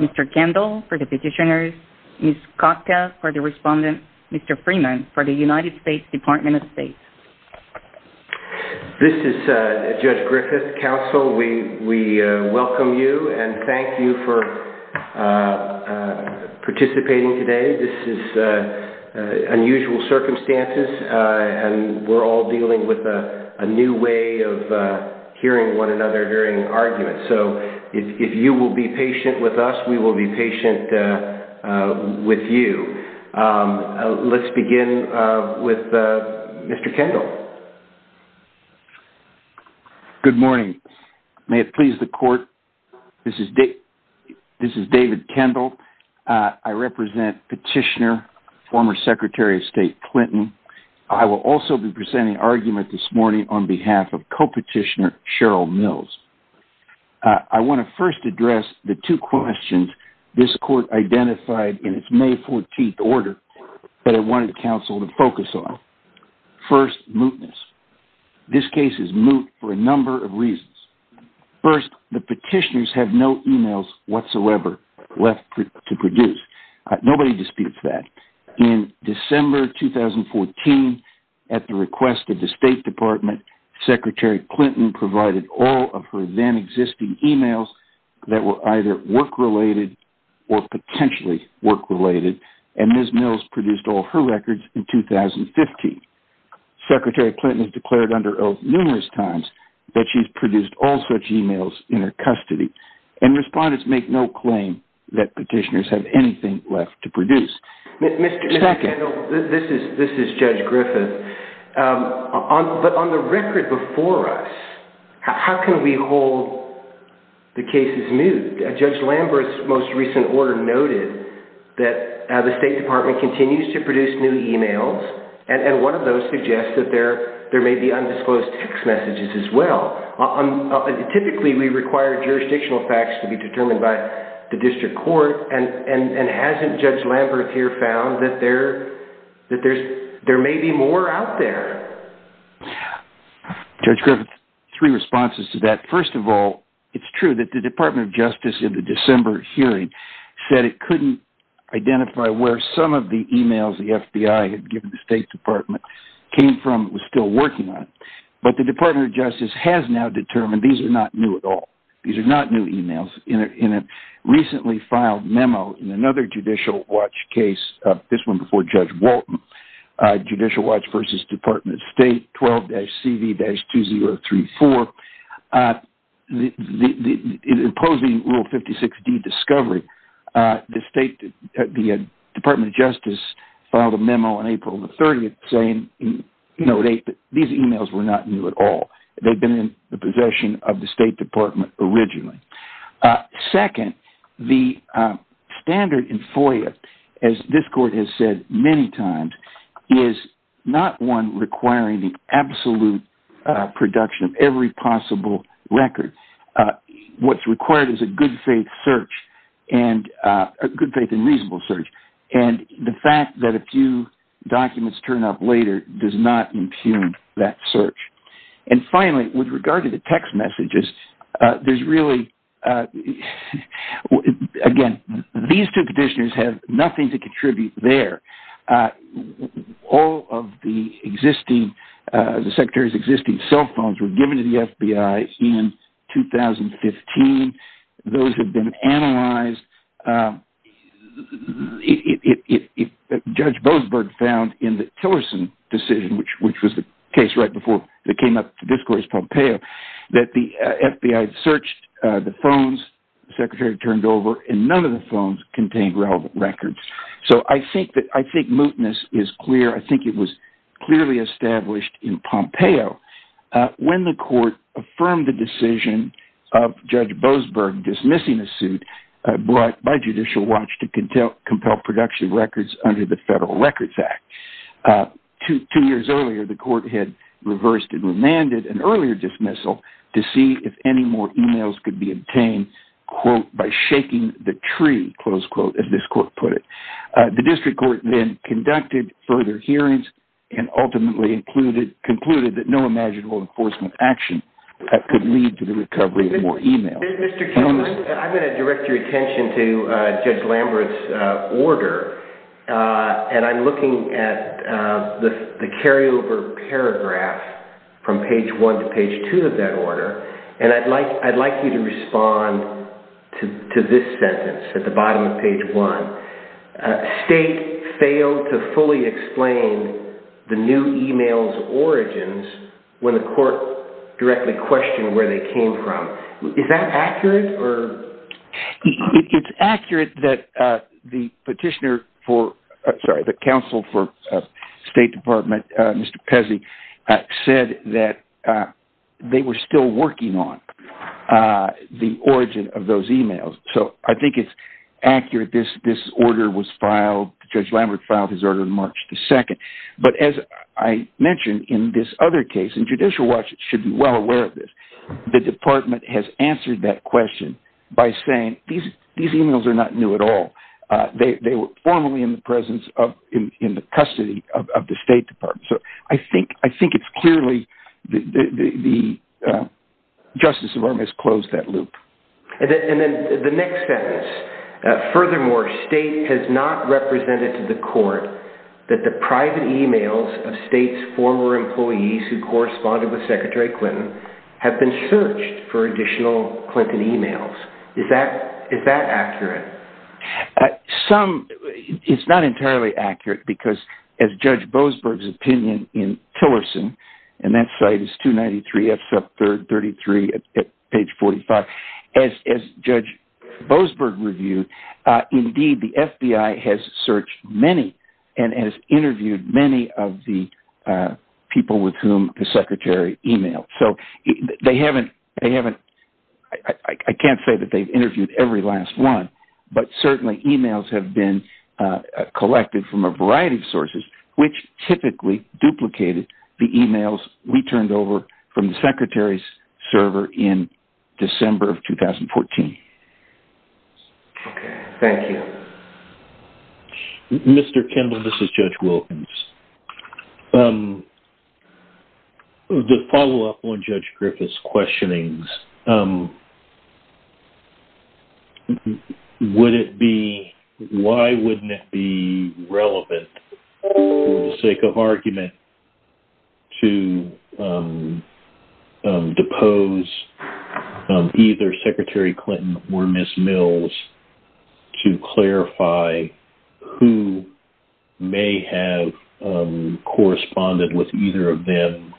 Mr. Kendall for the petitioners, Ms. Costa for the respondents, Mr. Freeman for the United States Department of State. This is Judge Griffith, counsel. We welcome you and thank you for participating today. We're all dealing with a new way of hearing one another, hearing arguments. So if you will be patient with us, we will be patient with you. Let's begin with Mr. Kendall. Good morning. May it please the court, this is David Kendall. I represent Petitioner, former Secretary of State Clinton. I will also be presenting argument this morning on behalf of co-petitioner Cheryl Mills. I want to first address the two questions this court identified in its May 14th order that I wanted counsel to focus on. First, mootness. This case is moot for a number of reasons. First, the petitioners have no emails whatsoever left to produce. Nobody disputes that. In December 2014, at the request of the State Department, Secretary Clinton provided all of her then existing emails that were either work-related or potentially work-related, and Ms. Mills produced all her records in 2015. Secretary Clinton has declared under oath numerous times that she's produced all such emails in her custody. And respondents make no claim that petitioners have anything left to produce. Mr. Kendall, this is Judge Griffith. On the record before us, how can we hold the cases moot? Judge Lambert's most recent order noted that the State Department continues to produce new emails, and one of those suggests that there may be undisclosed text messages as well. Typically, we require jurisdictional facts to be determined by the district court, and hasn't Judge Lambert here found that there may be more out there? Judge Griffith, three responses to that. First of all, it's true that the Department of Justice in the December hearing said it couldn't identify where some of the emails the FBI had given the State Department came from it was still working on. But the Department of Justice has now determined these are not new at all. These are not new emails. In a recently filed memo in another Judicial Watch case, this one before Judge Walton, Judicial Watch v. Department of State 12-CD-2034, imposing Rule 56D discovery, the Department of Justice filed a memo on April 30th saying these emails were not new at all. They'd been in the possession of the State Department originally. Second, the standard in FOIA, as this court has said many times, is not one requiring the absolute production of every possible record. What's required is a good faith search, a good faith and reasonable search. And the fact that a few documents turn up later does not impugn that search. And finally, with regard to the text messages, there's really, again, these two petitioners have nothing to contribute there. All of the Secretary's existing cell phones were given to the FBI in 2015. Those have been analyzed. Judge Bozberg found in the Tillerson decision, which was the case right before it came up, this court is Pompeo, that the FBI searched the phones the Secretary turned over, and none of the phones contained relevant records. So I think mootness is clear. I think it was clearly established in Pompeo when the court affirmed the decision of Judge Bozberg dismissing a suit brought by Judicial Watch to compel production records under the Federal Records Act. Two years earlier, the court had reversed and remanded an earlier dismissal to see if any more emails could be obtained, quote, by shaking the tree, close quote, as this court put it. The district court then conducted further hearings and ultimately concluded that no imaginable enforcement action could lead to the recovery of more emails. Mr. Columbus, I'm going to direct your attention to Judge Landry's order, and I'm looking at the carryover paragraph from page 1 to page 2 of that order, and I'd like you to respond to this sentence at the bottom of page 1. State failed to fully explain the new emails' origins when the court directly questioned where they came from. Is that accurate? It's accurate that the petitioner for, I'm sorry, the counsel for State Department, Mr. Pezzi, said that they were still working on the origin of those emails. So I think it's accurate this order was filed, Judge Landry filed his order on March 2nd. But as I mentioned in this other case, and Judicial Watch should be well aware of this, the department has answered that question by saying these emails are not new at all. They were formerly in the presence of, in the custody of the State Department. So I think it's clearly the Justice Department has closed that loop. And then the next sentence, furthermore, State has not represented to the court that the private emails of State's former employees who corresponded with Secretary Clinton have been searched for additional Clinton emails. Is that accurate? Some, it's not entirely accurate because as Judge Boasberg's opinion in Tillerson, and that site is 293F sub 33 at page 45, as Judge Boasberg reviewed, indeed the FBI has searched many and has interviewed many of the people with whom the Secretary emailed. So they haven't, I can't say that they've interviewed every last one, but certainly emails have been collected from a variety of sources, which typically duplicated the emails we turned over from the Secretary's server in December of 2014. Thank you. Mr. Kendall, this is Judge Wilkins. The follow-up on Judge Griffith's questionings, would it be, why wouldn't it be relevant for the sake of argument to depose either Secretary Clinton or Ms. Mills to clarify who may have corresponded with either of them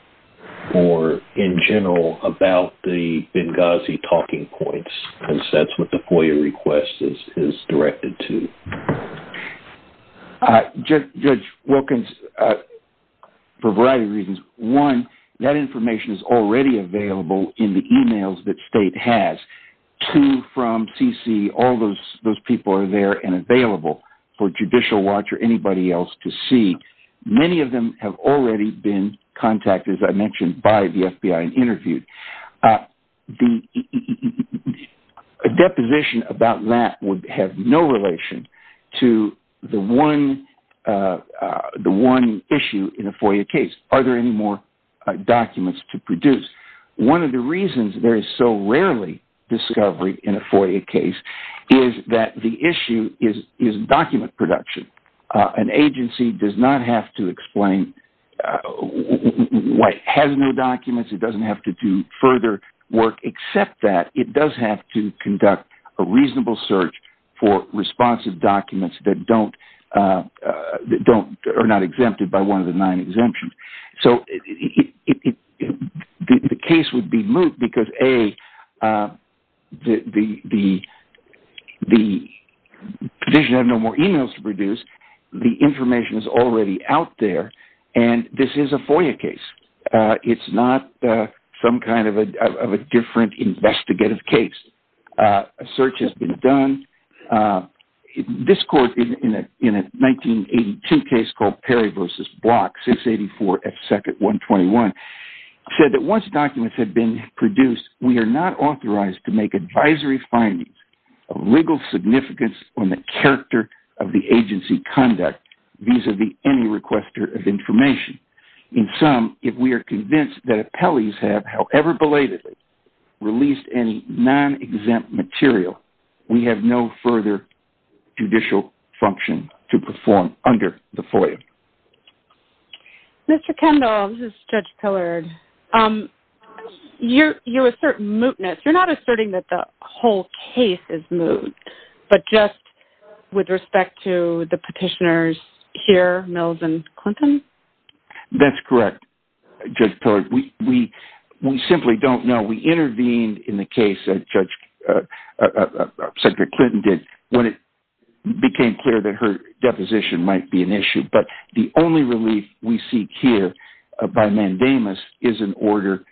or in general about the Benghazi talking points, since that's what the FOIA request is directed to? Judge Wilkins, for a variety of reasons. One, that information is already available in the emails that State has. Two, from CC, all those people are there and available for Judicial Watch or anybody else to see. Many of them have already been contacted, as I mentioned, by the FBI and interviewed. A deposition about that would have no relation to the one issue in a FOIA case. Are there any more documents to produce? One of the reasons there is so rarely discovery in a FOIA case is that the issue is document production. An agency does not have to explain what has no documents. It doesn't have to do further work except that it does have to conduct a reasonable search for responsive documents that are not exempted by one of the nine exemptions. So the case would be moved because, A, the provision of no more emails to produce, the information is already out there, and this is a FOIA case. It's not some kind of a different investigative case. A search has been done. This court, in a 1982 case called Perry v. Block, 684 F. Sec. 121, said that once documents have been produced, we are not authorized to make advisory findings of legal significance on the character of the agency conduct vis-à-vis any requester of information. In sum, if we are convinced that appellees have, however belatedly, released any non-exempt material, we have no further judicial function to perform under the FOIA. Mr. Kendall, this is Judge Pillard. You assert mootness. You're not asserting that the whole case is moot, but just with respect to the petitioners here, Mills and Clinton? That's correct, Judge Pillard. We simply don't know. We intervened in the case that Secretary Clinton did when it became clear that her deposition might be an issue, but the only relief we seek here by mandamus is an order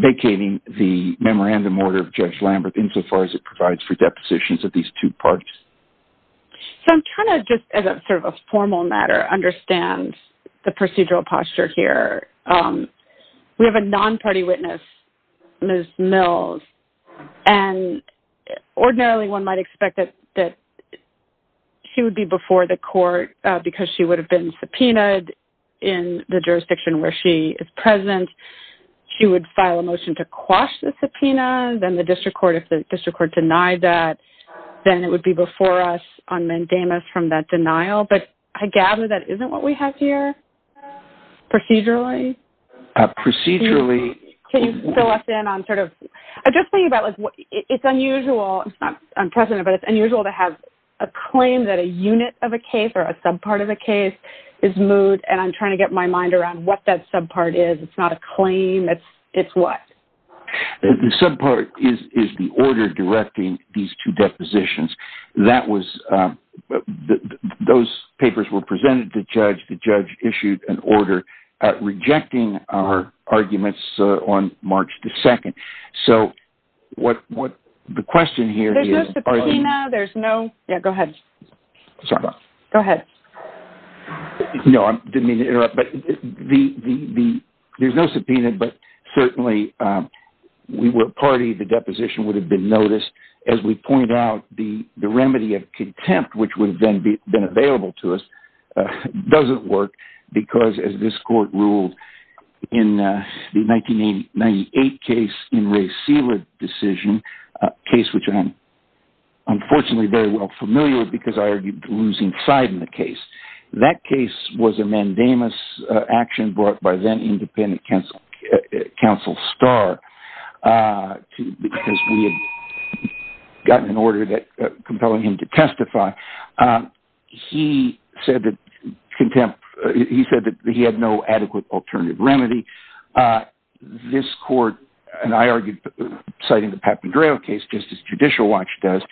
vacating the memorandum order of Judge Lambert insofar as it provides for depositions of these two parts. So I'm trying to just, as sort of a formal matter, understand the procedural posture here. We have a non-party witness, Ms. Mills, and ordinarily one might expect that she would be before the court because she would have been subpoenaed in the jurisdiction where she is present. She would file a motion to quash the subpoena. Then the district court, if the district court denied that, then it would be before us on mandamus from that denial. But I gather that isn't what we have here procedurally. Procedurally? Can you fill us in on sort of – I'm just thinking about it's unusual, it's not unprecedented, but it's unusual to have a claim that a unit of a case or a subpart of a case is moot, and I'm trying to get my mind around what that subpart is. It's not a claim. It's what? The subpart is the order directing these two depositions. That was – those papers were presented to judge. The judge issued an order rejecting our arguments on March 2nd. So what the question here is – There's no subpoena. There's no – yeah, go ahead. Sorry. Go ahead. No, I didn't mean to interrupt. There's no subpoena, but certainly we were a party. The deposition would have been noticed. As we point out, the remedy of contempt, which would have been available to us, doesn't work because as this court ruled in the 1998 case in Ray Seward's decision, a case which I'm unfortunately very well familiar with because I argued losing side in the case. That case was a mandamus action brought by then-independent counsel Starr because we had gotten an order compelling him to testify. He said that contempt – he said that he had no adequate alternative remedy. This court, and I argued citing the Papandreou case, just as Judicial Watch does,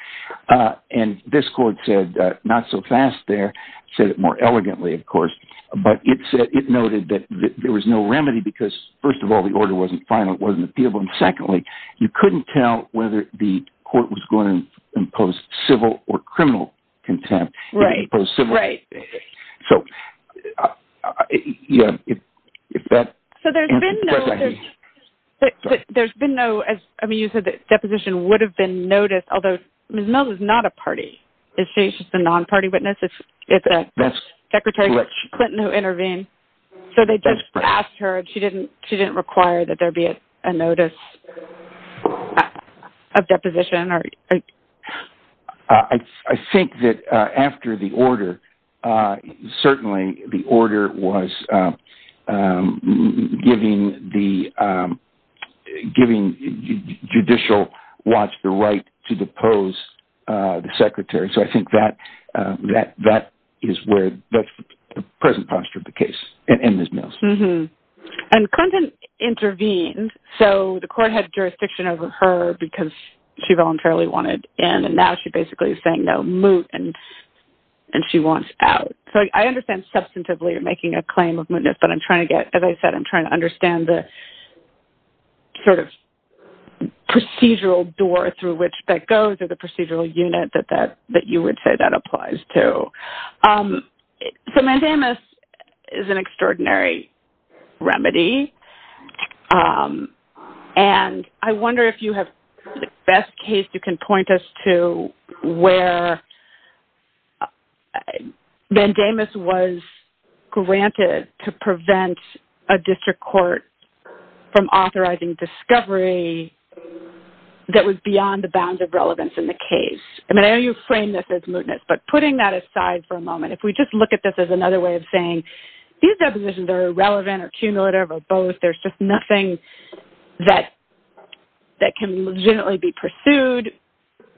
and this court said not so fast there, said it more elegantly, of course, but it noted that there was no remedy because, first of all, the order wasn't final, it wasn't appealable, and secondly, you couldn't tell whether the court was going to impose civil or criminal contempt. Right, right. So there's been no – I mean, you said the deposition would have been noticed, although Ms. Mills is not a party. She's a non-party witness. It's Secretary Clinton who intervened. So they just asked her, and she didn't require that there be a notice of deposition. I think that after the order, certainly the order was giving Judicial Watch the right to depose the secretary. So I think that is where – that's the present posture of the case and Ms. Mills. And Clinton intervened, so the court had jurisdiction over her because she voluntarily wanted in, and now she basically is saying, no, moot, and she wants out. So I understand substantively you're making a claim of mootness, but I'm trying to get – as I said, I'm trying to understand the sort of procedural door through which that goes or the procedural unit that you would say that applies to. So mandamus is an extraordinary remedy, and I wonder if you have the best case you can point us to where mandamus was granted to prevent a district court from authorizing discovery that was beyond the bounds of relevance in the case. I mean, I know you've framed this as mootness, but putting that aside for a moment, these depositions are irrelevant or cumulative or both. There's just nothing that can legitimately be pursued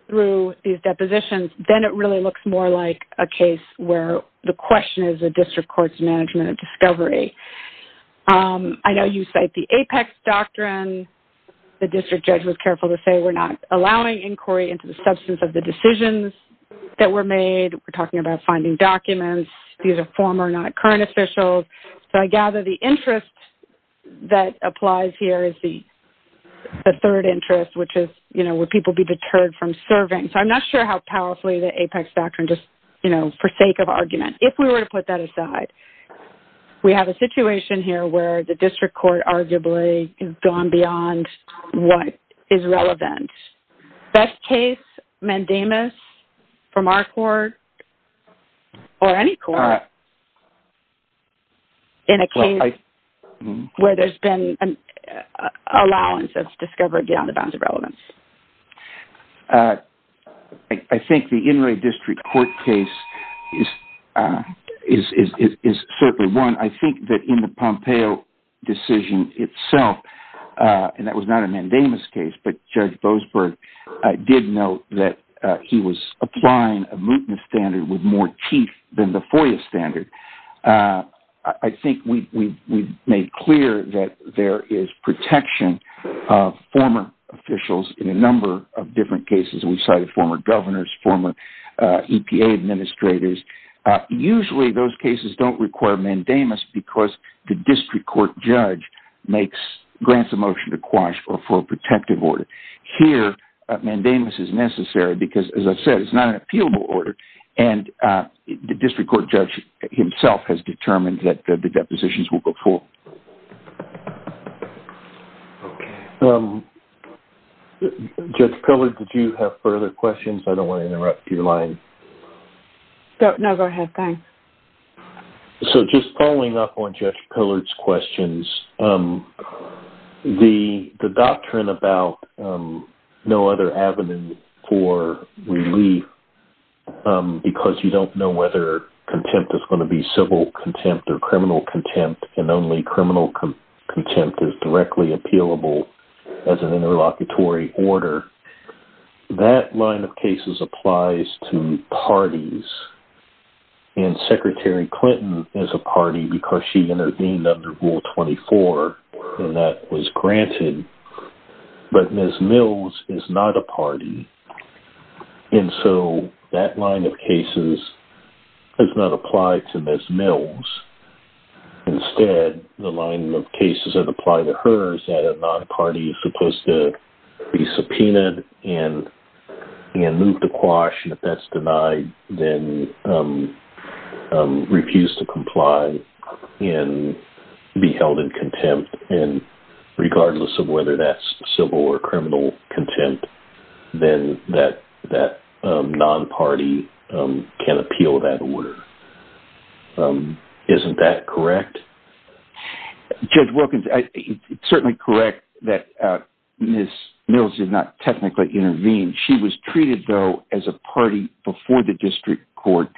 through these depositions. Then it really looks more like a case where the question is a district court's management of discovery. I know you cite the Apex Doctrine. The district judge was careful to say we're not allowing inquiry into the substance of the decisions that were made. We're talking about finding documents. These are former, not current, officials. So I gather the interest that applies here is the third interest, which is would people be deterred from serving. So I'm not sure how powerfully the Apex Doctrine just forsake of argument. If we were to put that aside, we have a situation here where the district court arguably has gone beyond what is relevant. Best case, mandamus from our court or any court in a case where there's been an allowance that's discovered beyond the bounds of relevance? I think the Inouye District Court case is certainly one. I think that in the Pompeo decision itself, and that was not a mandamus case, but Judge Boasberg did note that he was applying a mootness standard with more teeth than the FOIA standard. I think we've made clear that there is protection of former officials in a number of different cases. We cited former governors, former EPA administrators. Usually those cases don't require mandamus because the district court judge grants a motion to quash or for a protective order. Here, mandamus is necessary because, as I've said, it's not an appealable order, and the district court judge himself has determined that the depositions will go forward. Judge Kohler, did you have further questions? I don't want to interrupt your line. No, go ahead. Thanks. Just following up on Judge Kohler's questions, the doctrine about no other avenue for relief because you don't know whether contempt is going to be civil contempt or criminal contempt, and only criminal contempt is directly appealable as an interlocutory order, that line of cases applies to parties. Secretary Clinton is a party because she intervened under Rule 24, and that was granted, but Ms. Mills is not a party, and so that line of cases does not apply to Ms. Mills. Instead, the line of cases that apply to her is that a non-party is supposed to be subpoenaed and move to quash, and if that's denied, then refuse to comply and be held in contempt, and regardless of whether that's civil or criminal contempt, then that non-party can appeal that order. Isn't that correct? Judge Wilkins, it's certainly correct that Ms. Mills did not technically intervene. She was treated, though, as a party before the district court,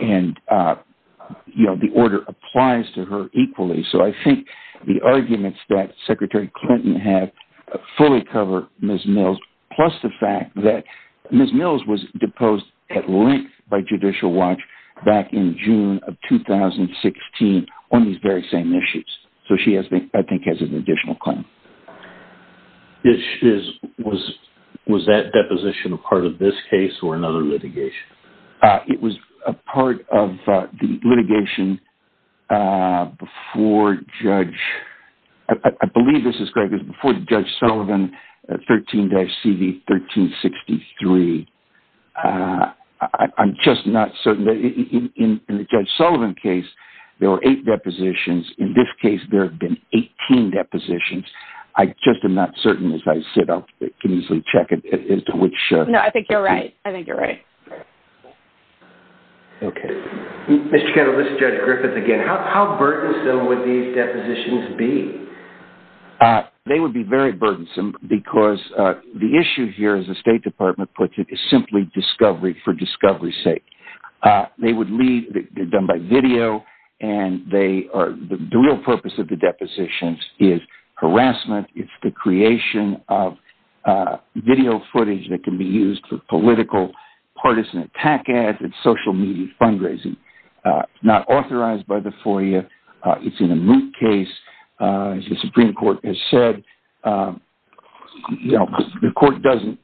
and the order applies to her equally. So I think the arguments that Secretary Clinton had fully cover Ms. Mills, plus the fact that Ms. Mills was deposed at length by Judicial Watch back in June of 2016 on these very same issues, so she, I think, has an additional claim. Was that deposition a part of this case or another litigation? It was a part of the litigation before Judge Sullivan, 13-CV 1363. I'm just not certain. In the Judge Sullivan case, there were eight depositions. In this case, there have been 18 depositions. I just am not certain. As I said, I can easily check it as to which. No, I think you're right. I think you're right. Okay. Mr. Cato, this is Judge Griffith again. How burdensome would these depositions be? They would be very burdensome because the issue here, as the State Department puts it, is simply discovery for discovery's sake. They would be done by video, and the real purpose of the depositions is harassment. It's the creation of video footage that can be used for political, partisan attack ads and social media fundraising. It's not authorized by the FOIA. It's in a moot case. As the Supreme Court has said, the court doesn't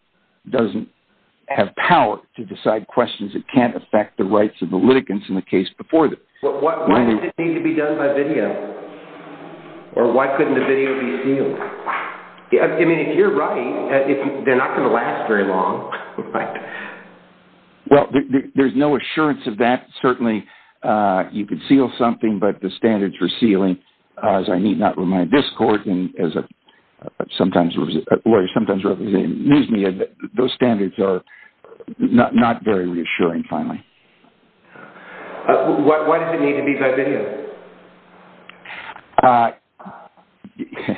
have power to decide questions that can't affect the rights of the litigants in the case before them. Why doesn't it need to be done by video? Or why couldn't the video be sealed? I mean, if you're right, they're not going to last very long. Well, there's no assurance of that. Certainly, you could seal something, but the standards for sealing, as I need not remind this court and as a lawyer sometimes representing news media, those standards are not very reassuring, finally. Why doesn't it need to be done by video?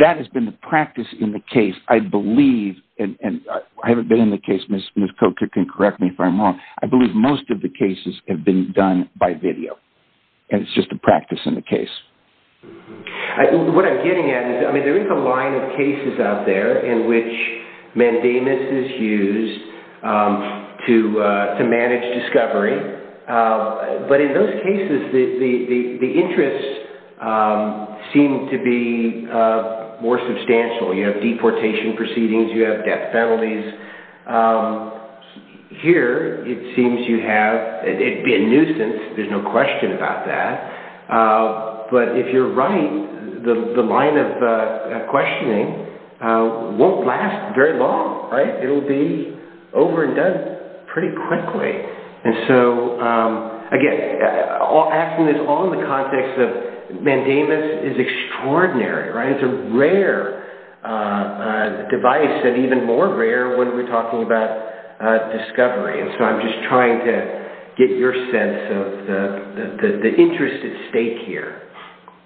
That has been the practice in the case, I believe, and I haven't been in the case. Ms. Kocher can correct me if I'm wrong. I believe most of the cases have been done by video, and it's just a practice in the case. What I'm getting at is there is a line of cases out there in which mandamus is used to manage discovery. But in those cases, the interests seem to be more substantial. You have deportation proceedings. You have death penalties. Here, it seems you have a nuisance. There's no question about that. But if you're right, the line of questioning won't last very long. It will be over and done pretty quickly. And so, again, asking this all in the context of mandamus is extraordinary. It's a rare device and even more rare when we're talking about discovery. And so I'm just trying to get your sense of the interest at stake here.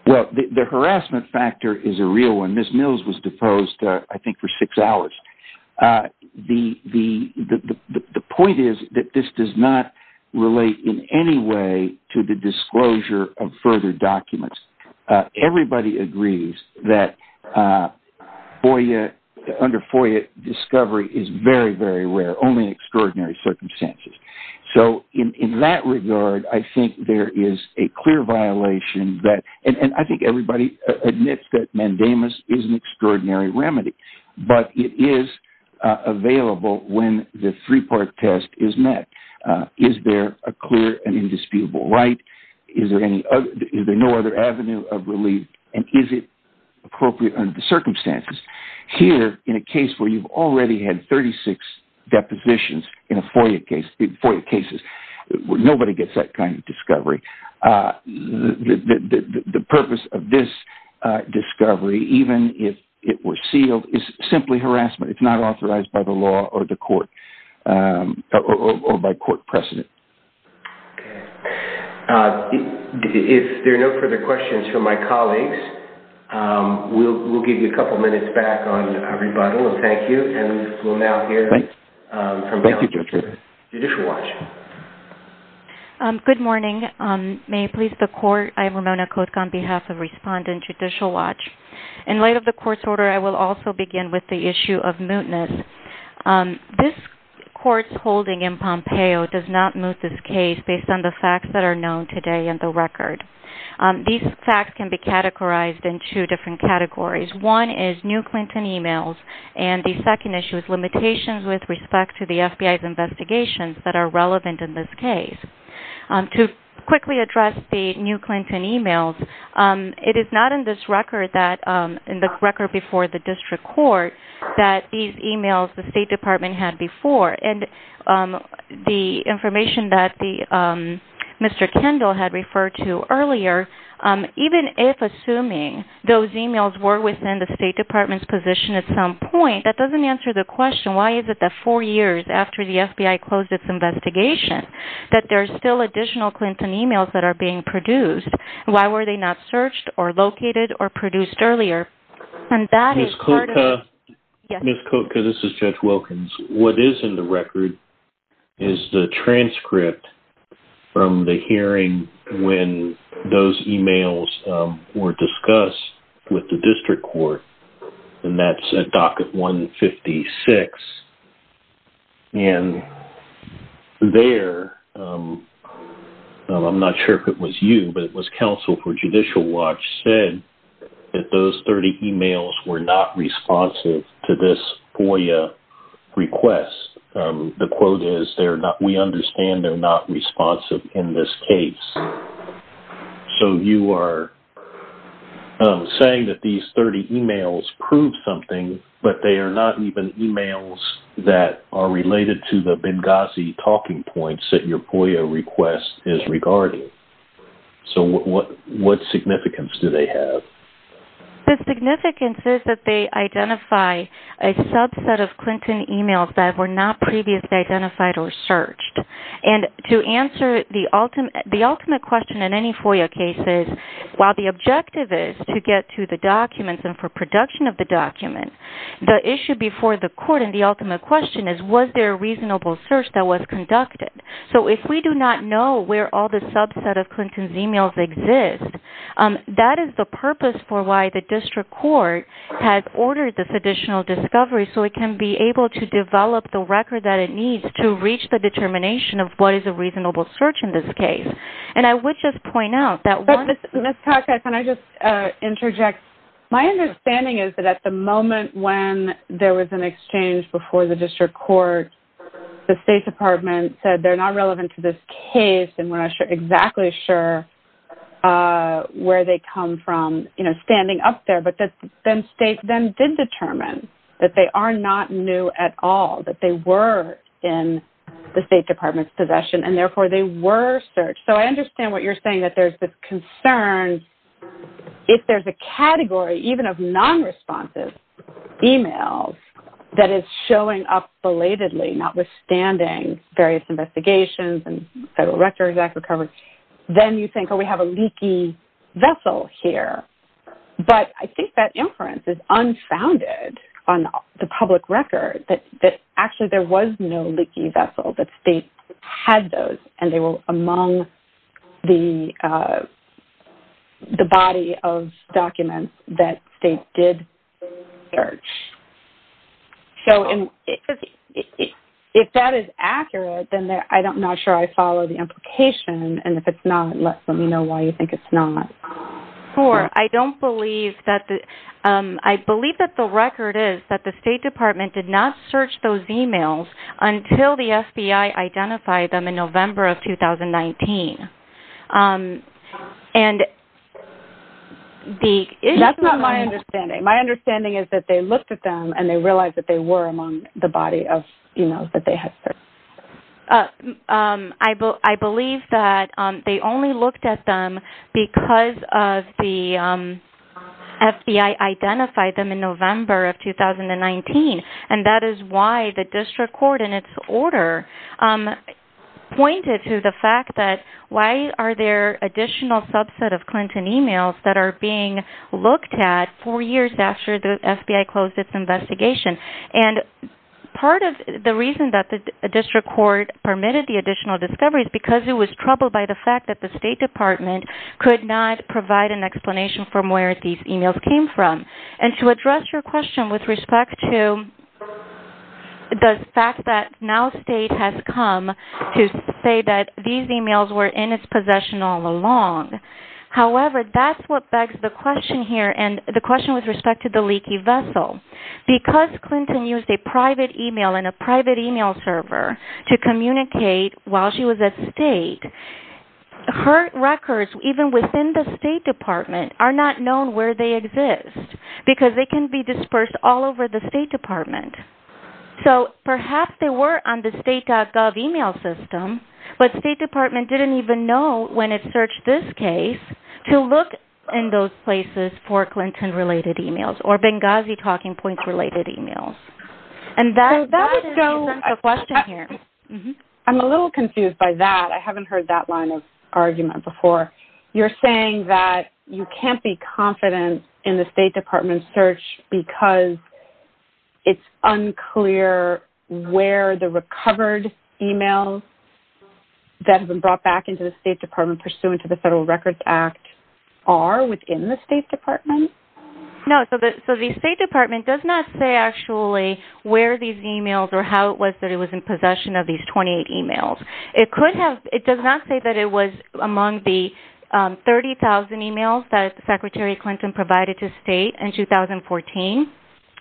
Well, the harassment factor is a real one. Ms. Mills was deposed, I think, for six hours. The point is that this does not relate in any way to the disclosure of further documents. Everybody agrees that under FOIA, discovery is very, very rare, only in extraordinary circumstances. So in that regard, I think there is a clear violation. And I think everybody admits that mandamus is an extraordinary remedy. But it is available when the three-part test is met. Is there a clear and indisputable right? Is there no other avenue of relief? And is it appropriate under the circumstances? Here, in a case where you've already had 36 depositions in FOIA cases, nobody gets that kind of discovery. The purpose of this discovery, even if it were sealed, is simply harassment. It's not authorized by the law or by court precedent. Okay. If there are no further questions from my colleagues, we'll give you a couple minutes back on rebuttal. And thank you. And we'll now hear from Judge Judicial Watch. Good morning. May it please the Court, I am Ramona Koch on behalf of Respondent Judicial Watch. In light of the Court's order, I will also begin with the issue of mootness. This Court's holding in Pompeo does not moot this case based on the facts that are known today in the record. These facts can be categorized in two different categories. One is new Clinton emails. And the second issue is limitations with respect to the FBI's investigations that are relevant in this case. To quickly address the new Clinton emails, it is not in this record before the District Court that these emails the State Department had before. And the information that Mr. Kendall had referred to earlier, even if assuming those emails were within the State Department's position at some point, that doesn't answer the question, why is it that four years after the FBI closed its investigation, that there are still additional Clinton emails that are being produced? Why were they not searched or located or produced earlier? Ms. Koch, this is Judge Wilkins. What is in the record is the transcript from the hearing when those emails were discussed with the District Court. And that's at docket 156. And there, I'm not sure if it was you, but it was counsel for Judicial Watch, said that those 30 emails were not responsive to this FOIA request. The quote is, we understand they're not responsive in this case. So you are saying that these 30 emails prove something, but they are not even emails that are related to the Benghazi talking points that your FOIA request is regarding. So what significance do they have? The significance is that they identify a subset of Clinton emails that were not previously identified or searched. And to answer the ultimate question in any FOIA case is, while the objective is to get to the documents and for production of the document, the issue before the court and the ultimate question is, was there a reasonable search that was conducted? So if we do not know where all the subset of Clinton's emails exist, that is the purpose for why the District Court has ordered this additional discovery so it can be able to develop the record that it needs to reach the determination of what is a reasonable search in this case. And I would just point out that one- Ms. Kaczmar, can I just interject? My understanding is that at the moment when there was an exchange before the District Court, the State Department said they're not relevant to this case and we're not exactly sure where they come from, you know, standing up there. But then State then did determine that they are not new at all, that they were in the State Department's possession, and therefore they were searched. So I understand what you're saying, that there's this concern. If there's a category even of nonresponsive emails that is showing up belatedly, notwithstanding various investigations and Federal Records Act recovery, then you think, oh, we have a leaky vessel here. But I think that inference is unfounded on the public record that actually there was no leaky vessel, that State had those and they were among the body of documents that State did search. So if that is accurate, then I'm not sure I follow the implication. And if it's not, let me know why you think it's not. Sure. I don't believe that the – I believe that the record is that the State Department did not search those emails until the FBI identified them in November of 2019. And the – That's not my understanding. My understanding is that they looked at them and they realized that they were among the body of emails that they had searched. I believe that they only looked at them because of the FBI identified them in November of 2019. And that is why the district court in its order pointed to the fact that why are there additional subset of Clinton emails that are being looked at four years after the FBI closed its investigation. And part of the reason that the district court permitted the additional discovery is because it was troubled by the fact that the State Department could not provide an explanation from where these emails came from. And to address your question with respect to the fact that now State has come to say that these emails were in its possession all along. However, that's what begs the question here and the question with respect to the leaky vessel. Because Clinton used a private email and a private email server to communicate while she was at State, her records even within the State Department are not known where they exist because they can be dispersed all over the State Department. So perhaps they were on the state.gov email system, but State Department didn't even know when it searched this case to look in those places for Clinton related emails or Benghazi talking points related emails. And that is still a question here. I'm a little confused by that. I haven't heard that line of argument before. You're saying that you can't be confident in the State Department's search because it's unclear where the recovered emails that have been brought back into the State Department pursuant to the Federal Records Act are within the State Department? No. So the State Department does not say actually where these emails or how it was that it was in possession of these 28 emails. It does not say that it was among the 30,000 emails that Secretary Clinton provided to State in 2014.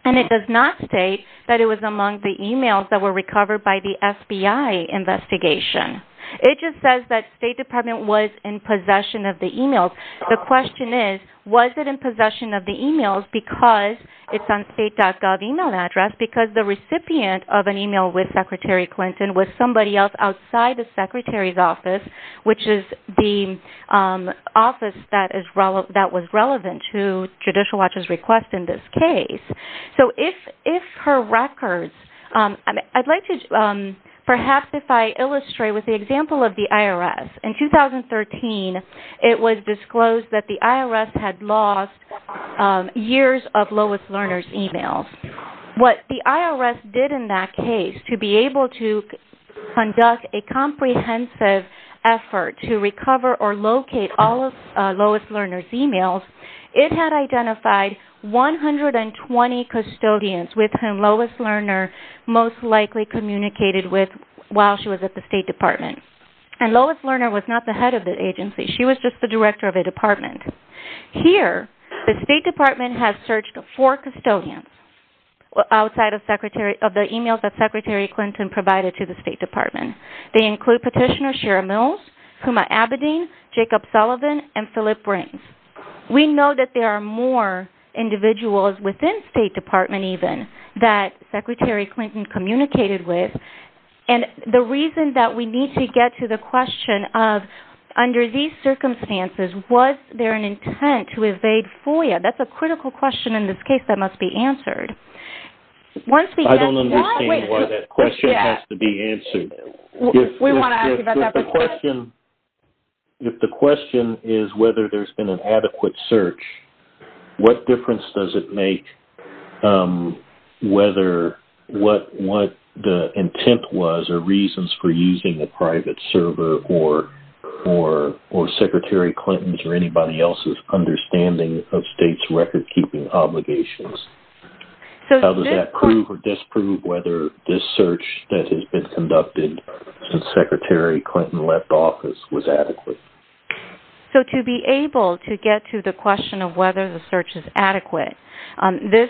And it does not state that it was among the emails that were recovered by the FBI investigation. It just says that State Department was in possession of the emails. The question is, was it in possession of the emails because it's on state.gov email address, because the recipient of an email with Secretary Clinton was somebody else outside the Secretary's office, which is the office that was relevant to Judicial Watch's request in this case. So if her records, I'd like to perhaps if I illustrate with the example of the IRS. In 2013, it was disclosed that the IRS had lost years of Lois Lerner's emails. What the IRS did in that case to be able to conduct a comprehensive effort to recover or locate all of Lois Lerner's emails, it had identified 120 custodians with whom Lois Lerner most likely communicated with while she was at the State Department. And Lois Lerner was not the head of the agency. She was just the director of the department. Here, the State Department has searched four custodians outside of the emails that Secretary Clinton provided to the State Department. They include Petitioner Sharon Mills, Kuma Abedin, Jacob Sullivan, and Phillip Brains. We know that there are more individuals within State Department even that Secretary Clinton communicated with. And the reason that we need to get to the question of under these circumstances, was there an intent to evade FOIA? That's a critical question in this case that must be answered. I don't understand why that question has to be answered. We want to ask you about that. If the question is whether there's been an adequate search, what difference does it make whether what the intent was or reasons for using a private server or Secretary Clinton's or anybody else's understanding of states' record-keeping obligations? How does that prove or disprove whether this search that has been conducted since Secretary Clinton left office was adequate? So to be able to get to the question of whether the search is adequate, this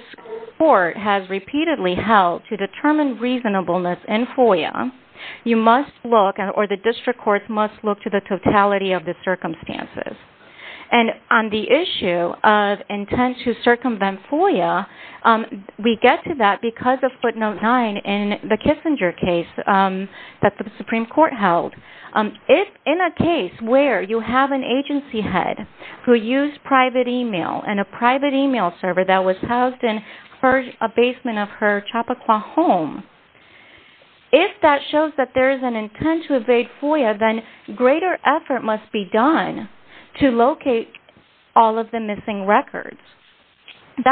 court has repeatedly held to determine reasonableness in FOIA. You must look or the district court must look to the totality of the circumstances. And on the issue of intent to circumvent FOIA, we get to that because of footnote 9 in the Kissinger case that the Supreme Court held. If in a case where you have an agency head who used private email and a private email server that was housed in a basement of her Chappaqua home, if that shows that there is an intent to evade FOIA, then greater effort must be done to locate all of the missing records. So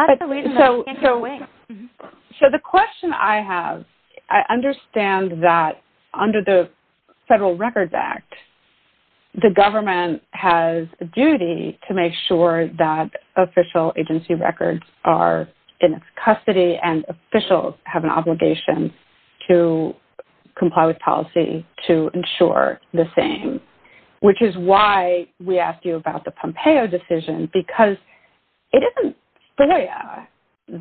the question I have, I understand that under the Federal Records Act, the government has a duty to make sure that official agency records are in custody and officials have an obligation to comply with policy to ensure the same, which is why we asked you about the Pompeo decision because it isn't FOIA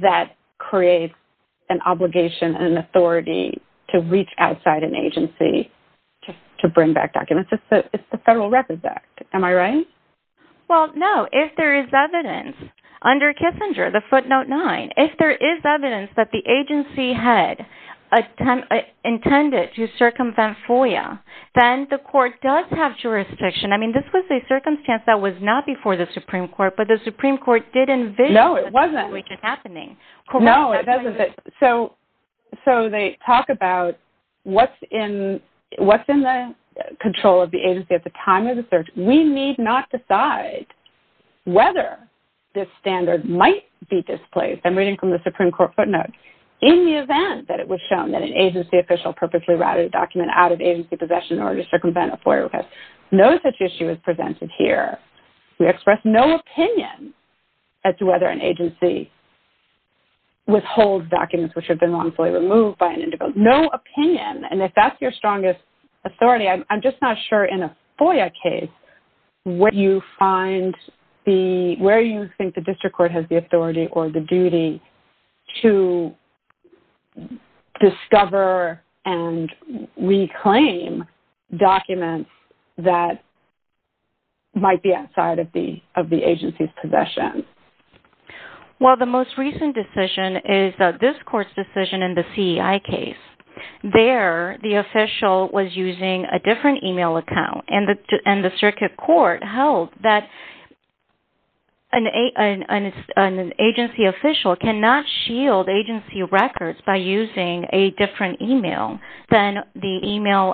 that creates an obligation and an authority to reach outside an agency to bring back documents. It's the Federal Records Act. Am I right? Well, no. If there is evidence under Kissinger, the footnote 9, if there is evidence that the agency had intended to circumvent FOIA, then the court does have jurisdiction. I mean, this was a circumstance that was not before the Supreme Court, but the Supreme Court did envision this happening. No, it wasn't. No, it doesn't. So they talk about what's in the control of the agency at the time of the search. We need not decide whether this standard might be displaced. I'm reading from the Supreme Court footnote. In the event that it was shown that an agency official purposefully routed a document out of agency possession in order to circumvent a FOIA request, no such issue is presented here. We express no opinion as to whether an agency withholds documents which have been wrongfully removed by an individual. No opinion, and if that's your strongest authority, I'm just not sure in a FOIA case where you think the district court has the authority or the duty to discover and reclaim documents that might be outside of the agency's possession. Well, the most recent decision is this court's decision in the CEI case. There, the official was using a different email account, and the district court held that an agency official cannot shield agency records by using a different email than the email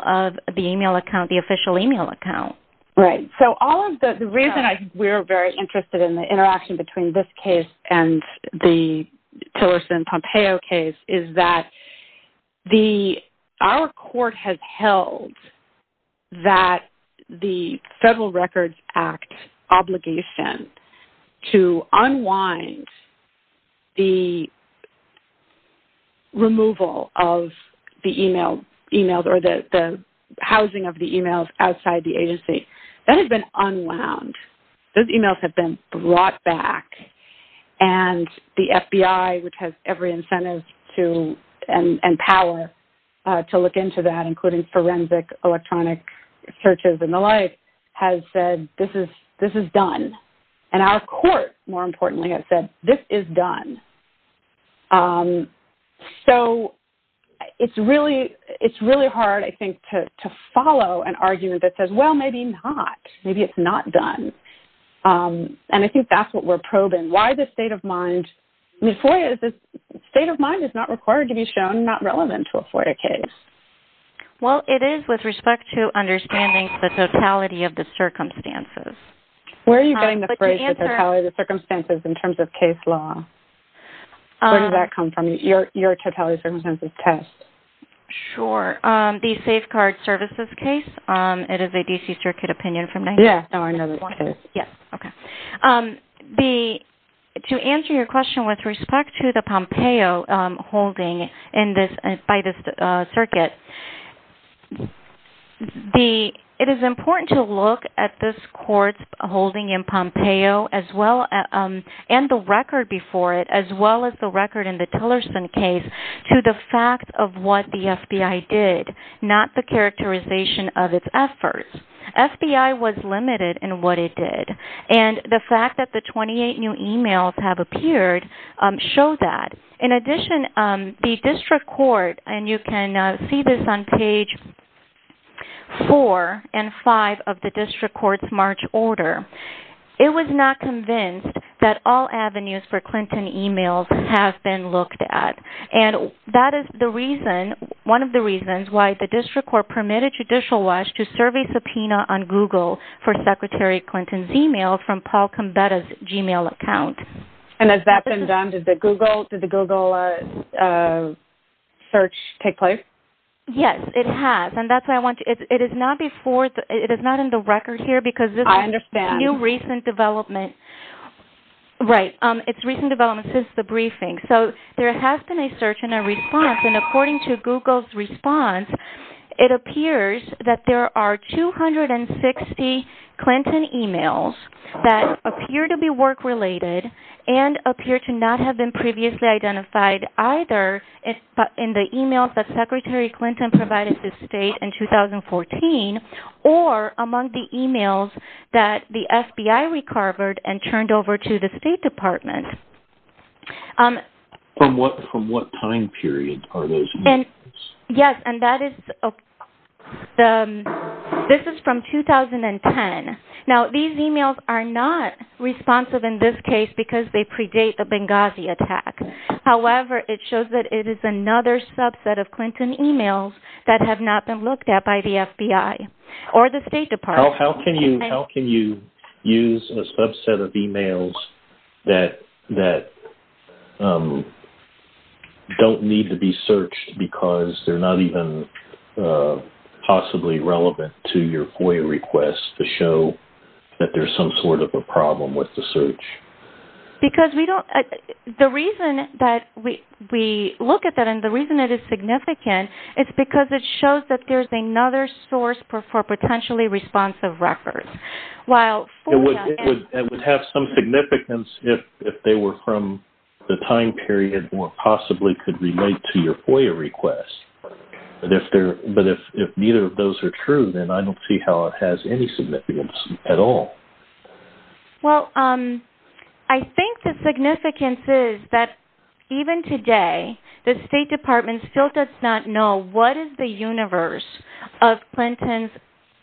account, the official email account. Right. So all of the reason we're very interested in the interaction between this case and the Tillerson-Pompeo case is that our court has held that the Federal Records Act obligation to unwind the removal of the email or the housing of the emails outside the agency, that has been unwound. Those emails have been brought back, and the FBI, which has every incentive to and power to look into that, including forensic, electronic searches and the like, has said, this is done. And our court, more importantly, has said, this is done. So it's really hard, I think, to follow an argument that says, well, maybe not. And I think that's what we're probing. Why the state of mind? The state of mind is not required to be shown, not relevant to a Florida case. Well, it is with respect to understanding the totality of the circumstances. Where are you getting the phrase, the totality of the circumstances, in terms of case law? Where did that come from, your totality of circumstances test? Sure. The Safeguard Services case, it is a D.C. Circuit opinion. Yeah. Okay. To answer your question with respect to the Pompeo holding by this circuit, it is important to look at this court's holding in Pompeo, and the record before it, as well as the record in the Tillerson case, to the fact of what the FBI did, not the characterization of its efforts. FBI was limited in what it did. And the fact that the 28 new emails have appeared show that. In addition, the district court, and you can see this on page 4 and 5 of the district court's March order, it was not convinced that all avenues for Clinton emails have been looked at. And that is the reason, one of the reasons, why the district court permitted Judicial Watch to serve a subpoena on Google for Secretary Clinton's email from Paul Combetta's Gmail account. And has that been done? Did the Google search take place? Yes, it has. And that's why I want to, it is not before, it is not in the record here because this is new recent development. I understand. Right. It's recent development since the briefing. So there has been a search and a response, and according to Google's response, it appears that there are 260 Clinton emails that appear to be work-related and appear to not have been previously identified either in the emails that Secretary Clinton provided to the state in 2014 or among the emails that the FBI recovered and turned over to the State Department. From what time period are those emails? Yes, and that is, this is from 2010. Now, these emails are not responsive in this case because they predate the Benghazi attack. However, it shows that it is another subset of Clinton emails that have not been looked at by the FBI or the State Department. How can you use a subset of emails that don't need to be searched because they're not even possibly relevant to your FOIA request to show that there's some sort of a problem with the search? Because we don't, the reason that we look at that, and the reason it is significant, is because it shows that there's another source for potentially responsive records. It would have some significance if they were from the time period where it possibly could relate to your FOIA request. But if neither of those are true, then I don't see how it has any significance at all. Well, I think the significance is that even today, the State Department still does not know what is the universe of Clinton's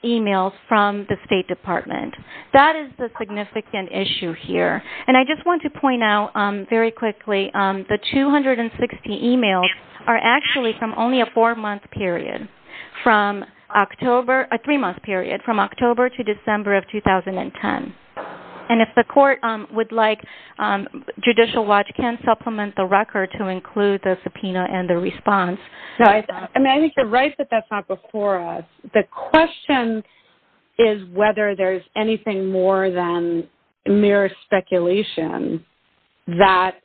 emails from the State Department. That is the significant issue here. And I just want to point out very quickly, the 260 emails are actually from only a three-month period, from October to December of 2010. And if the court would like, Judicial Watch can supplement the record to include the subpoena and the response. I think you're right that that's not before us. The question is whether there's anything more than mere speculation that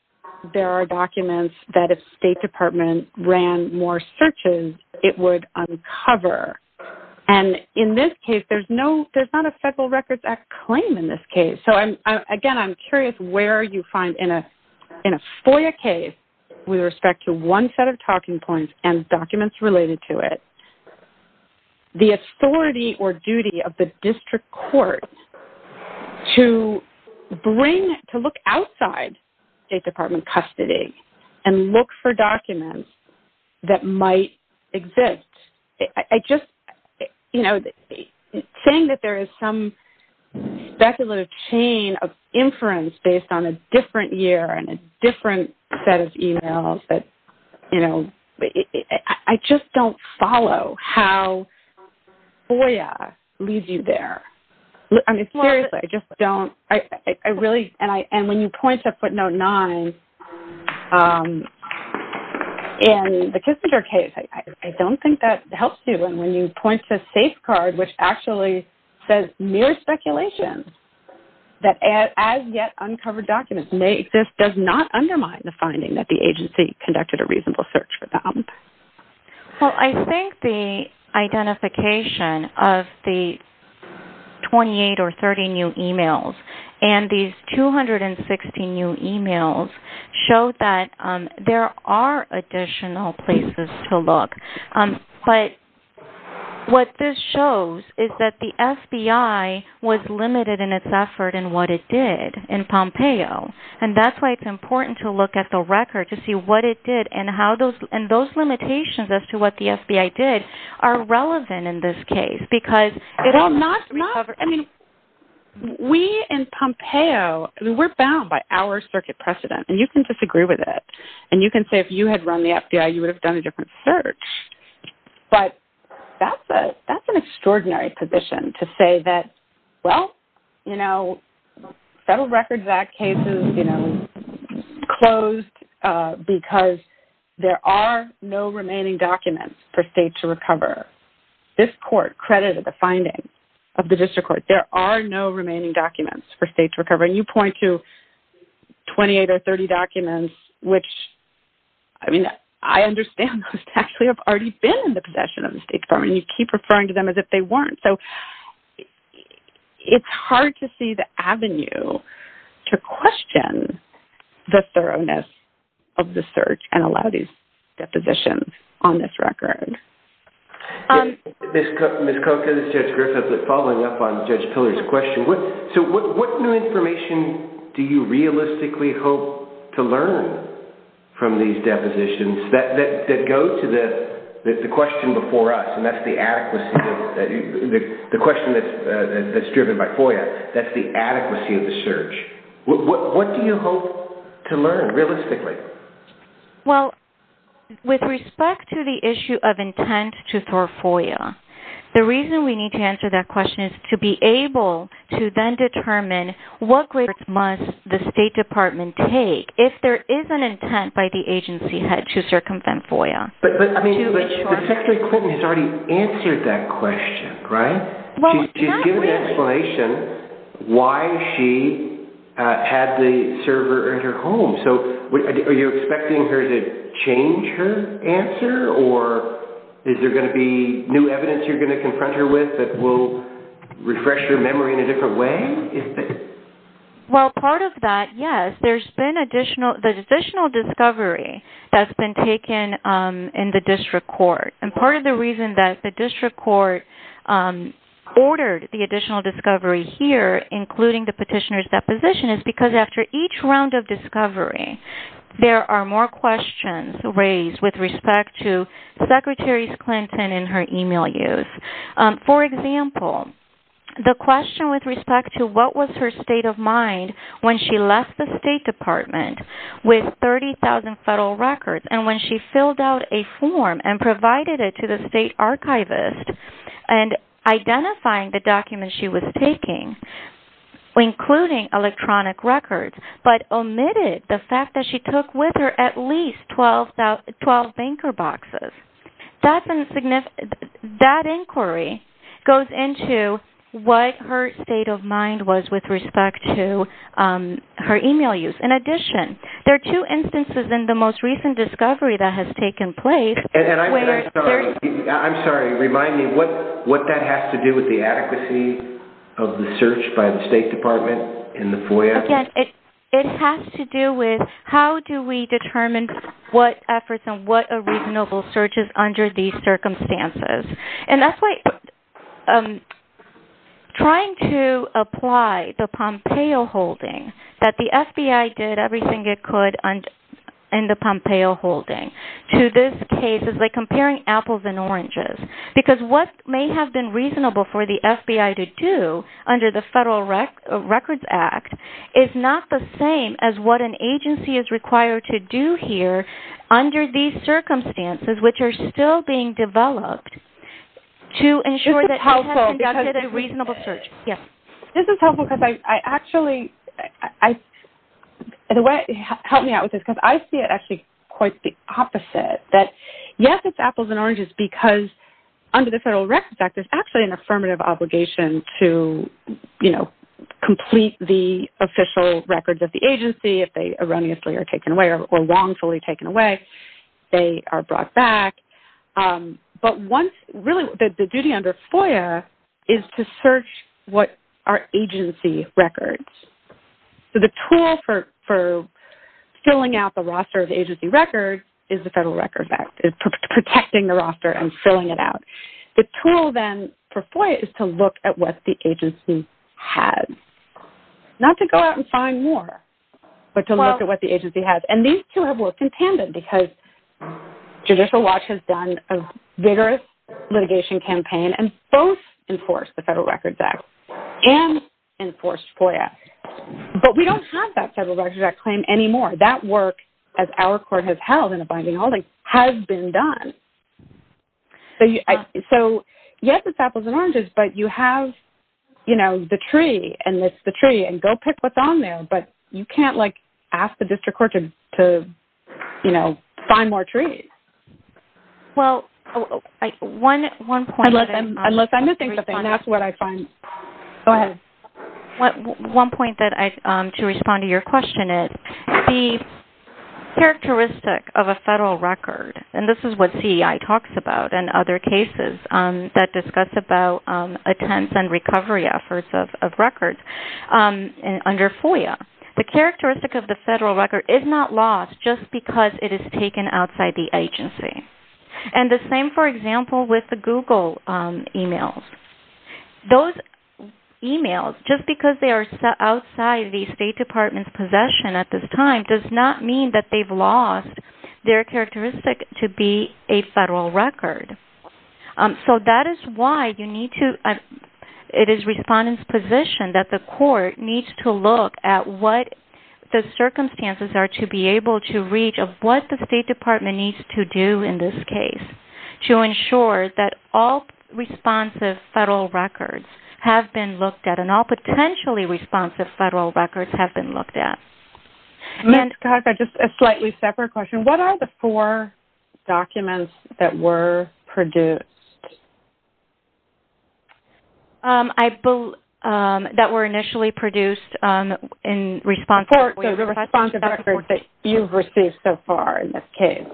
there are documents that if State Department ran more searches, it would uncover. And in this case, there's not a Federal Records Act claim in this case. So, again, I'm curious where you find in a FOIA case with respect to one set of talking points and documents related to it, the authority or duty of the district court to look outside State Department custody and look for documents that might exist. Saying that there is some speculative chain of inference based on a different year and a different set of emails, I just don't follow how FOIA leaves you there. I mean, seriously, I just don't. And when you point to footnote nine in the Kissinger case, I don't think that helps you. And when you point to a safe card which actually says mere speculation, that as yet uncovered documents may exist, does not undermine the finding that the agency conducted a reasonable search for them. Well, I think the identification of the 28 or 30 new emails and these 260 new emails show that there are additional places to look. But what this shows is that the FBI was limited in its effort in what it did in Pompeo. And that's why it's important to look at the record to see what it did and how those limitations as to what the FBI did are relevant in this case. Because it is not uncovered. I mean, we in Pompeo, we're bound by our circuit precedent. And you can disagree with it. And you can say if you had run the FBI, you would have done a different search. But that's an extraordinary position to say that, well, you know, Federal Records Act cases closed because there are no remaining documents for state to recover. This court credited the finding of the district court. There are no remaining documents for state to recover. And you point to 28 or 30 documents, which, I mean, I understand those actually have already been in the possession of the State Department. You keep referring to them as if they weren't. So it's hard to see the avenue to question the thoroughness of the search and allow these depositions on this record. Ms. Kroenke, this is Judge Griffith. Following up on Judge Pilley's question. So what new information do you realistically hope to learn from these depositions that go to the question before us? And that's the adequacy of the question that's driven by FOIA. That's the adequacy of the search. What do you hope to learn realistically? Well, with respect to the issue of intent to throw FOIA, the reason we need to answer that question is to be able to then determine what grids must the State Department take if there is an intent by the agency head to circumvent FOIA. But, I mean, you know, Secretary Clinton has already answered that question, right? She's given an explanation why she had the server in her home. So are you expecting her to change her answer? Or is there going to be new evidence you're going to confront her with that will refresh her memory in a different way? Well, part of that, yes. There's been additional discovery that's been taken in the district court. And part of the reason that the district court ordered the additional discovery here, including the petitioner's deposition, is because after each round of discovery, there are more questions raised with respect to Secretary Clinton and her email use. For example, the question with respect to what was her state of mind when she left the State Department with 30,000 federal records and when she filled out a form and provided it to the State Archivist and identifying the documents she was taking, including electronic records, but omitted the fact that she took with her at least 12 banker boxes. That inquiry goes into what her state of mind was with respect to her email use. In addition, there are two instances in the most recent discovery that has taken place. I'm sorry. Remind me what that has to do with the accuracy of the search by the State Department in the FOIA. It has to do with how do we determine what efforts and what a reasonable search is under these circumstances. And that's why trying to apply the Pompeo holding, that the FBI did everything it could in the Pompeo holding, to this case is like comparing apples and oranges. Because what may have been reasonable for the FBI to do under the Federal Records Act is not the same as what an agency is required to do here under these circumstances, which are still being developed, to ensure that you have conducted a reasonable search. This is helpful because I actually – help me out with this because I see it actually quite the opposite, that yes, it's apples and oranges because under the Federal Records Act, there's actually an affirmative obligation to, you know, complete the official records of the agency. If they erroneously are taken away or wrongfully taken away, they are brought back. But once – really, the duty under FOIA is to search what are agency records. So the tool for filling out the roster of agency records is the Federal Records Act. It's protecting the roster and filling it out. The tool then for FOIA is to look at what the agency has. Not to go out and find more, but to look at what the agency has. And these two have worked in tandem because Judicial Watch has done a vigorous litigation campaign and both enforced the Federal Records Act and enforced FOIA. But we don't have that Federal Records Act claim anymore. That work, as our court has held in a binding holding, has been done. So yes, it's apples and oranges, but you have, you know, the tree. And it's the tree. And go pick what's on there. But you can't, like, ask the district court to, you know, find more trees. Well, one point – Unless I'm missing something. That's what I find. Go ahead. One point that I – to respond to your question is the characteristic of a federal record, and this is what CEI talks about in other cases that discuss about attempts and recovery efforts of records under FOIA. The characteristic of the federal record is not lost just because it is taken outside the agency. And the same, for example, with the Google emails. Those emails, just because they are outside the State Department's possession at this time, does not mean that they've lost their characteristic to be a federal record. So that is why you need to – it is respondents' position that the court needs to look at what the circumstances are to be able to reach, of what the State Department needs to do in this case to ensure that all responsive federal records have been looked at and all potentially responsive federal records have been looked at. Just a slightly separate question. What are the four documents that were produced? That were initially produced in response to FOIA. The four responsive records that you've received so far in this case.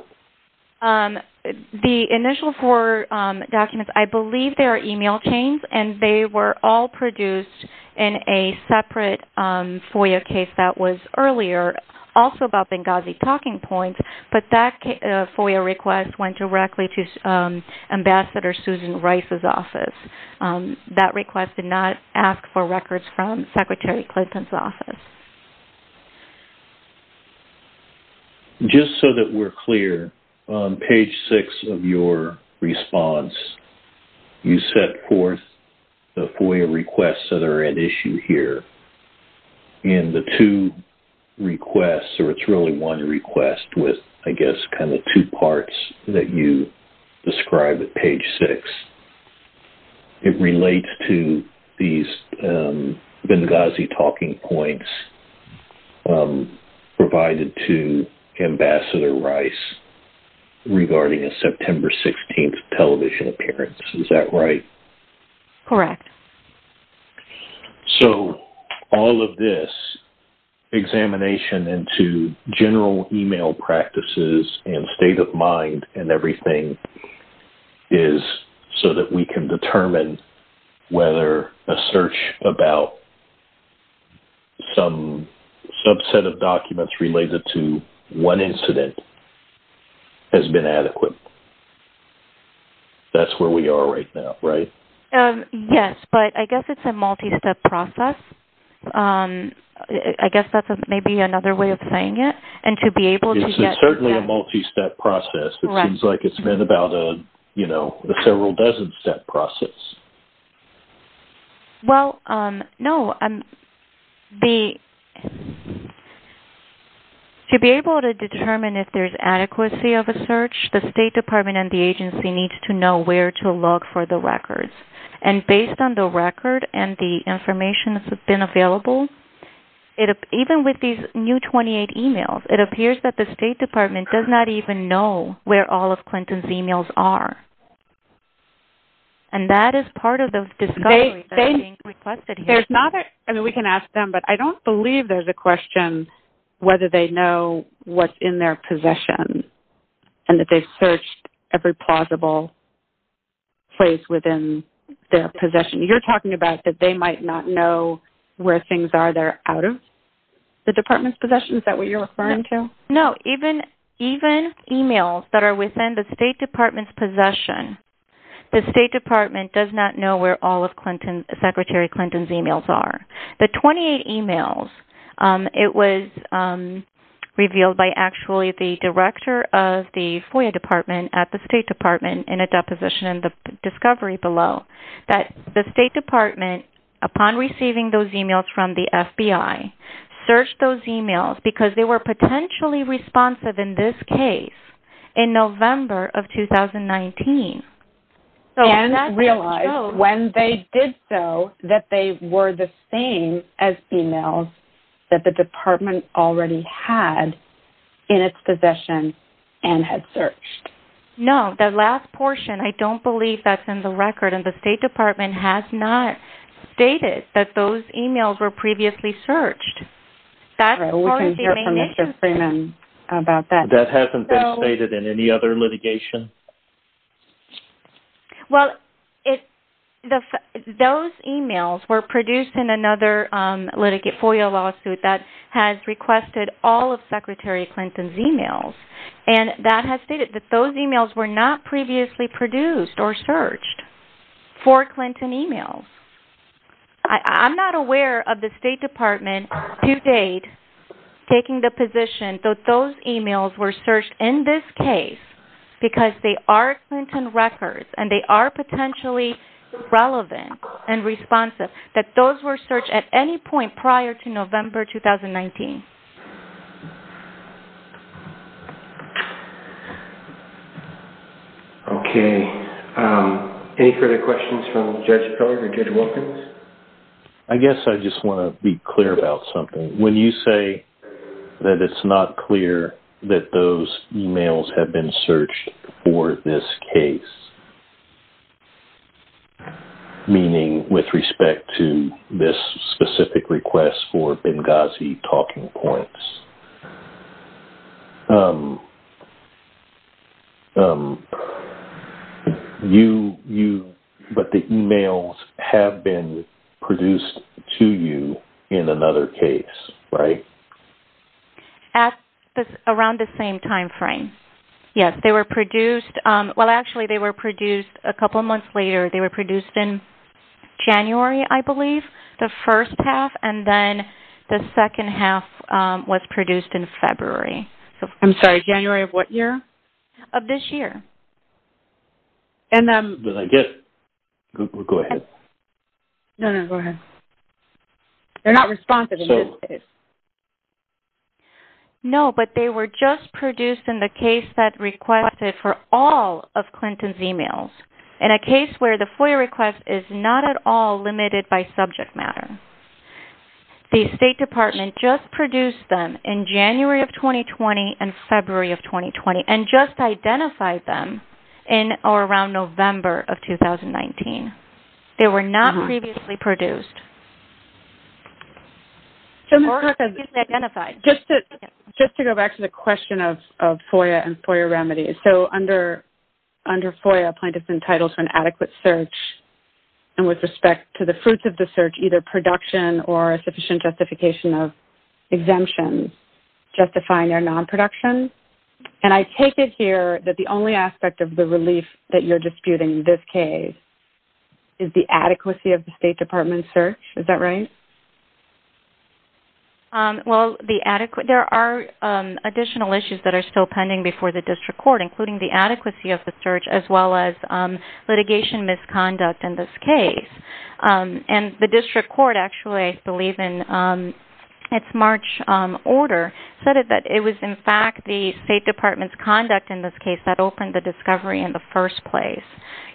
The initial four documents, I believe their email came, and they were all produced in a separate FOIA case that was earlier, also about Benghazi Talking Points. But that FOIA request went directly to Ambassador Susan Rice's office. That request did not ask for records from Secretary Clinton's office. Just so that we're clear, on page six of your response, you set forth the FOIA requests that are at issue here. And the two requests, or it's really one request with, I guess, kind of two parts that you describe at page six, it relates to these Benghazi Talking Points provided to Ambassador Rice regarding a September 16th television appearance. Is that right? Correct. So all of this, examination into general email practices and state of mind and everything, is so that we can determine whether a search about some subset of documents related to one incident has been adequate. That's where we are right now, right? Yes, but I guess it's a multi-step process. I guess that's maybe another way of saying it. It's certainly a multi-step process. It seems like it's been about a several dozen step process. Well, no. To be able to determine if there's adequacy of a search, the State Department and the agency needs to know where to look for the records. And based on the record and the information that's been available, even with these new 28 emails, it appears that the State Department does not even know where all of Clinton's emails are. And that is part of those discoveries that are being requested here. I mean, we can ask them, but I don't believe there's a question whether they know what's in their possession and that they've searched every plausible place within their possession. You're talking about that they might not know where things are they're out of the Department's possession? Is that what you're referring to? No, even emails that are within the State Department's possession, the State Department does not know where all of Secretary Clinton's emails are. The 28 emails, it was revealed by actually the director of the FOIA Department at the State Department in a deposition in the discovery below, that the State Department, upon receiving those emails from the FBI, searched those emails because they were potentially responsive in this case in November of 2019. And realized when they did so that they were the same as emails that the Department already had in its possession and had searched. No, that last portion, I don't believe that's in the record. The State Department has not stated that those emails were previously searched. That hasn't been stated in any other litigation? Well, those emails were produced in another FOIA lawsuit that has requested all of Secretary Clinton's emails. And that has stated that those emails were not previously produced or searched for Clinton emails. I'm not aware of the State Department to date taking the position that those emails were searched in this case because they are Clinton records and they are potentially relevant and responsive, that those were searched at any point prior to November 2019. Okay. Any further questions from Judge Peller or Judge Wilkins? I guess I just want to be clear about something. When you say that it's not clear that those emails have been searched for this case, meaning with respect to this specific request for Benghazi talking points, but the emails have been produced to you in another case, right? At around the same time frame. Yes, they were produced. Well, actually, they were produced a couple of months later. They were produced in January, I believe, the first half, and then the second half was produced in February. I'm sorry. January of what year? Of this year. And then... Did I get it? Go ahead. No, no, go ahead. They're not responsive in this case. No, but they were just produced in the case that requested for all of Clinton's emails. In a case where the FOIA request is not at all limited by subject matter. The State Department just produced them in January of 2020 and February of 2020 and just identified them in or around November of 2019. They were not previously produced. Just to go back to the question of FOIA and FOIA remedies. So under FOIA, a plaintiff's entitled to an adequate search and with respect to the fruits of the search, either production or sufficient justification of exemptions justifying their non-production. And I take it here that the only aspect of the relief that you're disputing in this case is the adequacy of the State Department search. Is that right? Well, there are additional issues that are still pending before the district court, including the adequacy of the search as well as litigation misconduct in this case. And the district court actually, I believe in its March order, said that it was in fact the State Department's conduct in this case that opened the discovery in the first place.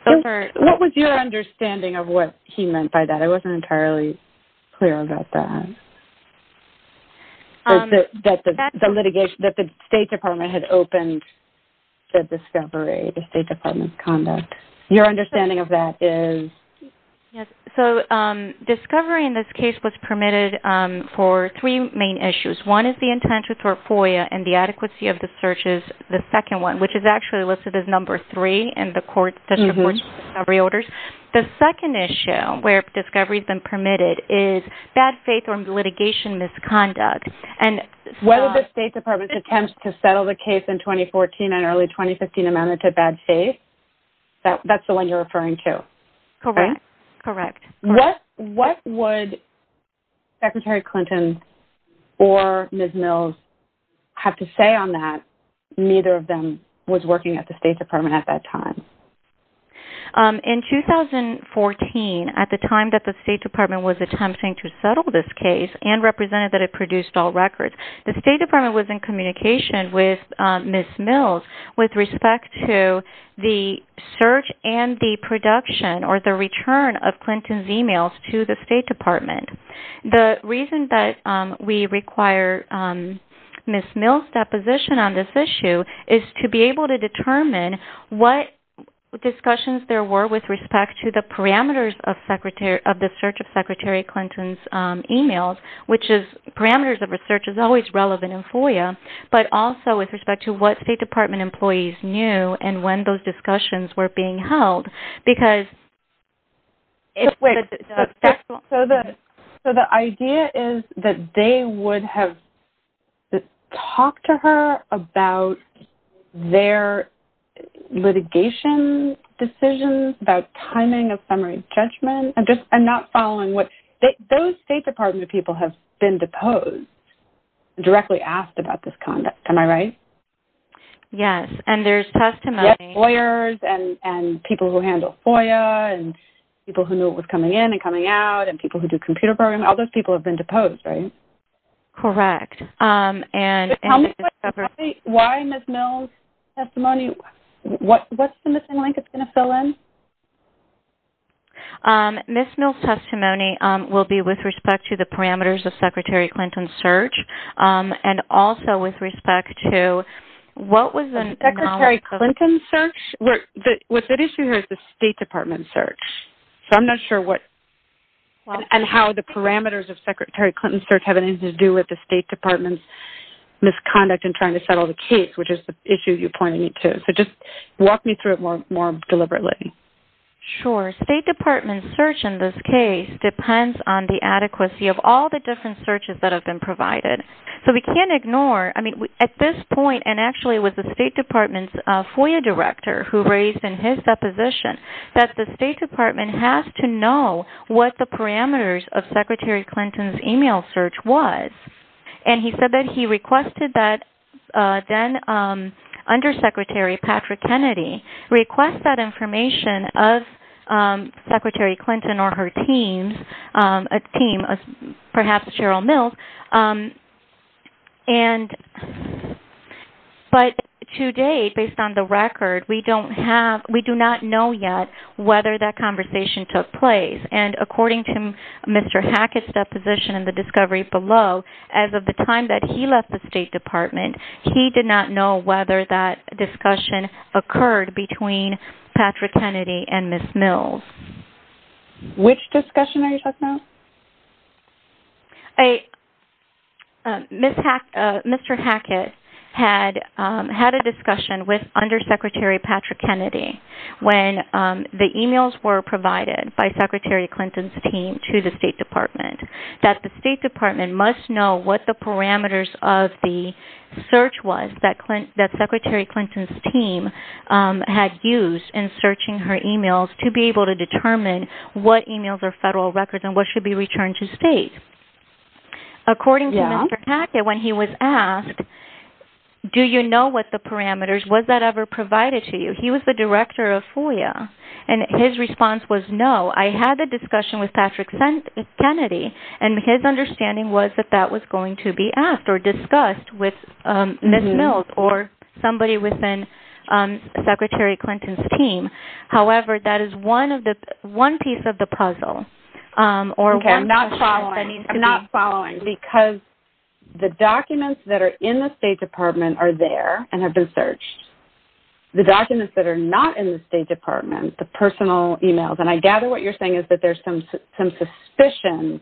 What was your understanding of what he meant by that? I wasn't entirely clear about that. That the State Department had opened the discovery, the State Department's conduct. Your understanding of that is? Yes. So discovery in this case was permitted for three main issues. One is the intention for FOIA and the adequacy of the searches, the second one, which is actually listed as number three in the court's discovery orders. The second issue where discovery has been permitted is bad faith or litigation misconduct. Whether the State Department's attempts to settle the case in 2014 and early 2015 amounted to bad faith, that's the one you're referring to? Correct. What would Secretary Clinton or Ms. Mills have to say on that? Neither of them was working at the State Department at that time. In 2014, at the time that the State Department was attempting to settle this case and represented that it produced all records, the State Department was in communication with Ms. Mills with respect to the search and the production or the return of Clinton's emails to the State Department. The reason that we require Ms. Mills' deposition on this issue is to be able to determine what discussions there were with respect to the parameters of the search of Secretary Clinton's emails, which is parameters of research is always relevant in FOIA, but also with respect to what State Department employees knew and when those discussions were being held. The idea is that they would have talked to her about their litigation decisions, about timing of summary judgment, and not following what... Those State Department people have been deposed, directly asked about this conduct. Am I right? Yes, and there's testimony. There's lawyers and people who handle FOIA and people who knew it was coming in and coming out and people who do computer programming. All those people have been deposed, right? Correct. Why Ms. Mills' testimony? What's the missing link it's going to fill in? Ms. Mills' testimony will be with respect to the parameters of Secretary Clinton's search and also with respect to what was the... Secretary Clinton's search? What's at issue here is the State Department search, so I'm not sure what and how the parameters of Secretary Clinton's search have anything to do with the State Department's misconduct in trying to settle the case, which is the issue you're pointing to. So just walk me through it more deliberately. Sure. The State Department's search in this case depends on the adequacy of all the different searches that have been provided. So we can't ignore, I mean, at this point, and actually it was the State Department's FOIA director who raised in his deposition that the State Department has to know what the parameters of Secretary Clinton's email search was, and he said that he requested that then Undersecretary Patrick Kennedy request that information of Secretary Clinton or her team, perhaps Cheryl Mills, but to date, based on the record, we do not know yet whether that conversation took place, and according to Mr. Hackett's deposition in the discovery below, as of the time that he left the State Department, he did not know whether that discussion occurred between Patrick Kennedy and Ms. Mills. Which discussion are you talking about? Mr. Hackett had a discussion with Undersecretary Patrick Kennedy when the emails were provided by Secretary Clinton's team to the State Department that the State Department must know what the parameters of the search was that Secretary Clinton's team had used in searching her emails to be able to determine what emails are federal records and what should be returned to state. According to Mr. Hackett, when he was asked, do you know what the parameters, was that ever provided to you? He was the director of FOIA, and his response was no. I had a discussion with Patrick Kennedy, and his understanding was that that was going to be asked or discussed with Ms. Mills or somebody within Secretary Clinton's team. However, that is one piece of the puzzle. Okay, I'm not following. I'm not following. Because the documents that are in the State Department are there and have been searched. The documents that are not in the State Department, the personal emails, and I gather what you're saying is that there's some suspicion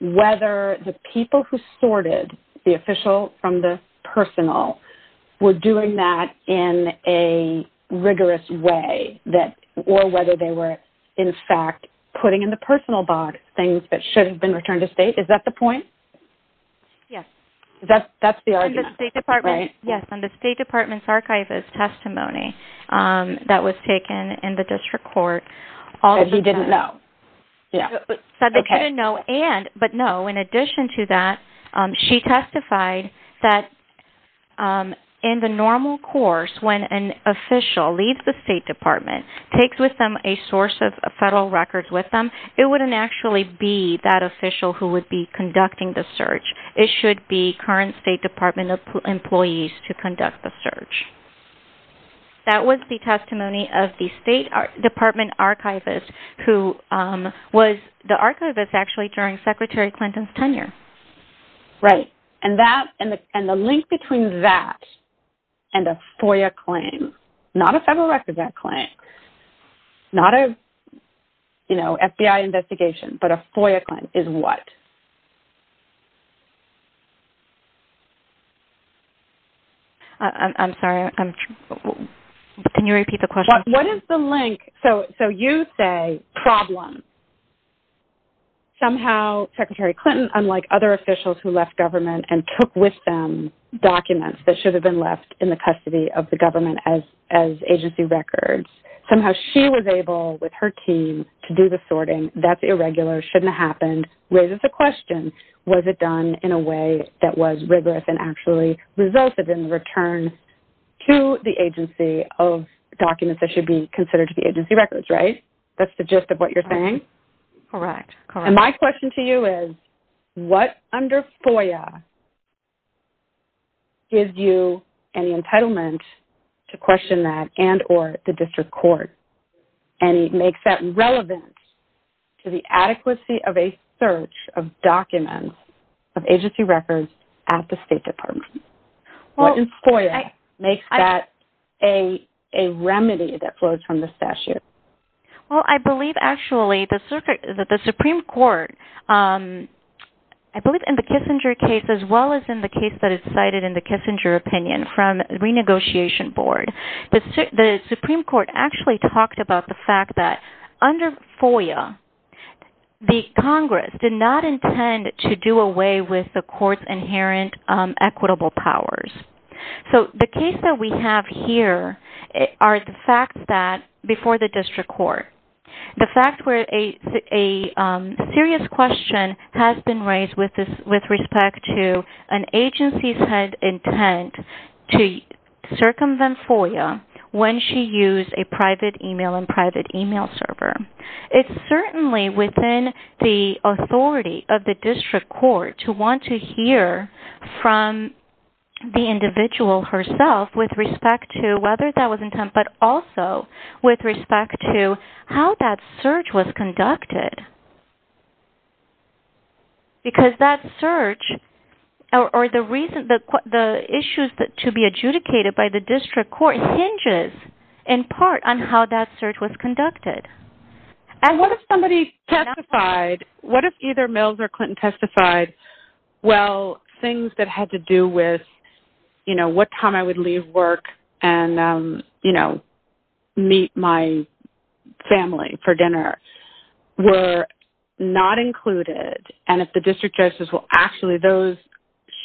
whether the people who sorted the official from the personal were doing that in a rigorous way or whether they were, in fact, putting in the personal box things that should have been returned to state. Is that the point? Yes. That's the idea, right? Yes, and the State Department's archive has testimony that was taken in the district court. That he didn't know. That they didn't know, but no, in addition to that, she testified that in the normal course, when an official leaves the State Department, takes with them a source of federal records with them, it wouldn't actually be that official who would be conducting the search. It should be current State Department employees to conduct the search. That was the testimony of the State Department archivist, who was the archivist actually during Secretary Clinton's tenure. Right, and the link between that and a FOIA claim, not a federal records act claim, not a FBI investigation, but a FOIA claim is what? I'm sorry, can you repeat the question? What is the link? So you say problem. Somehow Secretary Clinton, unlike other officials who left government and took with them documents that should have been left in the custody of the government as agency records, somehow she was able, with her team, to do the sorting. That's irregular, shouldn't have happened, raises the question, was it done in a way that was rigorous and actually resulted in the return to the agency of documents that should be considered to be agency records, right? That's the gist of what you're saying? Correct, correct. And my question to you is, what under FOIA gives you any entitlement to question that and or the district court and makes that relevant to the adequacy of a search of documents of agency records at the State Department? What in FOIA makes that a remedy that flows from the statute? Well, I believe, actually, the Supreme Court, both in the Kissinger case as well as in the case that is cited in the Kissinger opinion from renegotiation board, the Supreme Court actually talked about the fact that under FOIA, the Congress did not intend to do away with the court's inherent equitable powers. So the case that we have here are the facts that before the district court. The fact where a serious question has been raised with respect to an agency's intent to circumvent FOIA when she used a private email and private email server. It's certainly within the authority of the district court to want to hear from the individual herself with respect to whether that was intent, but also with respect to how that search was conducted. Because that search or the reason that the issues to be adjudicated by the district court hinges in part on how that search was conducted. And what if somebody testified, what if either Mills or Clinton testified, well, things that had to do with, you know, what time I would leave work and, you know, meet my family for dinner were not included. And if the district justice will actually, those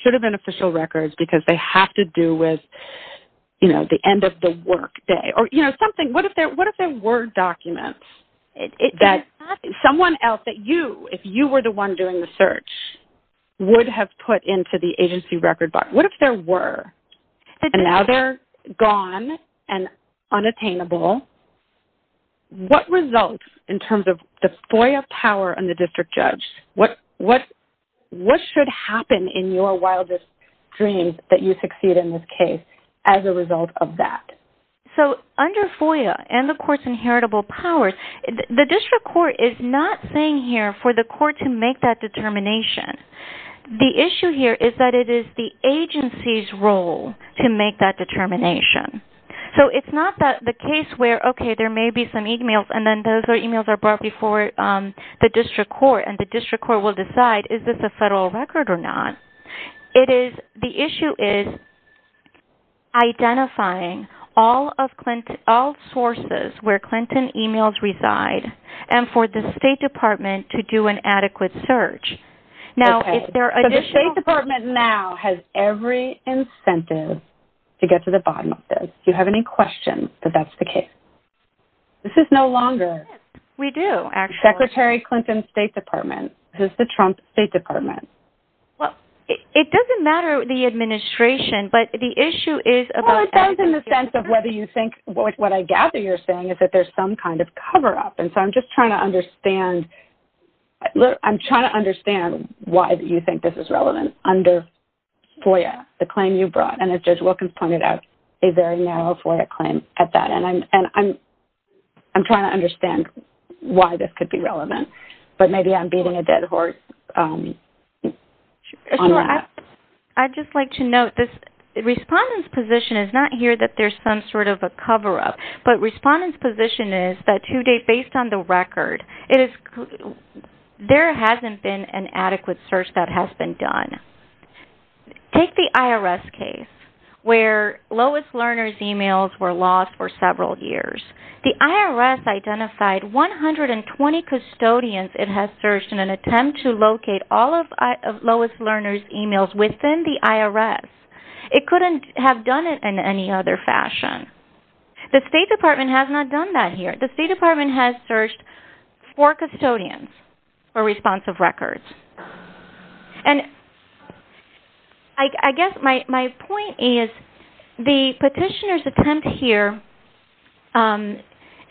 should have been official records because they have to do with, you know, the end of the work day or, you know, something. What if there were documents that someone else that you, if you were the one doing the search, would have put into the agency record box? What if there were? And now they're gone and unattainable. What results in terms of the FOIA power and the district judge? What should happen in your wildest dreams that you succeed in this case as a result of that? So under FOIA and, of course, inheritable powers, the district court is not saying here for the court to make that determination. The issue here is that it is the agency's role to make that determination. So it's not that the case where, okay, there may be some e-mails and then those e-mails are brought before the district court and the district court will decide is this a federal record or not. It is, the issue is identifying all sources where Clinton e-mails reside and for the State Department to do an adequate search. Now, if there are additional… The State Department now has every incentive to get to the bottom of this. Do you have any questions that that's the case? This is no longer… We do, actually. Secretary Clinton's State Department. This is the Trump State Department. Well, it doesn't matter the administration, but the issue is about… Well, it depends on the sense of whether you think what I gather you're saying is that there's some kind of cover-up. And so I'm just trying to understand why you think this is relevant under FOIA, the claim you brought, and as Judge Wilkins pointed out, a very narrow FOIA claim at that. And I'm trying to understand why this could be relevant, but maybe I'm beating a dead horse on that. I'd just like to note this respondent's position is not here that there's some sort of a cover-up, but respondent's position is that today, based on the record, there hasn't been an adequate search that has been done. Take the IRS case where Lois Lerner's emails were lost for several years. The IRS identified 120 custodians it has searched in an attempt to locate all of Lois Lerner's emails within the IRS. It couldn't have done it in any other fashion. The State Department has not done that here. The State Department has searched four custodians for responsive records. And I guess my point is the petitioner's attempt here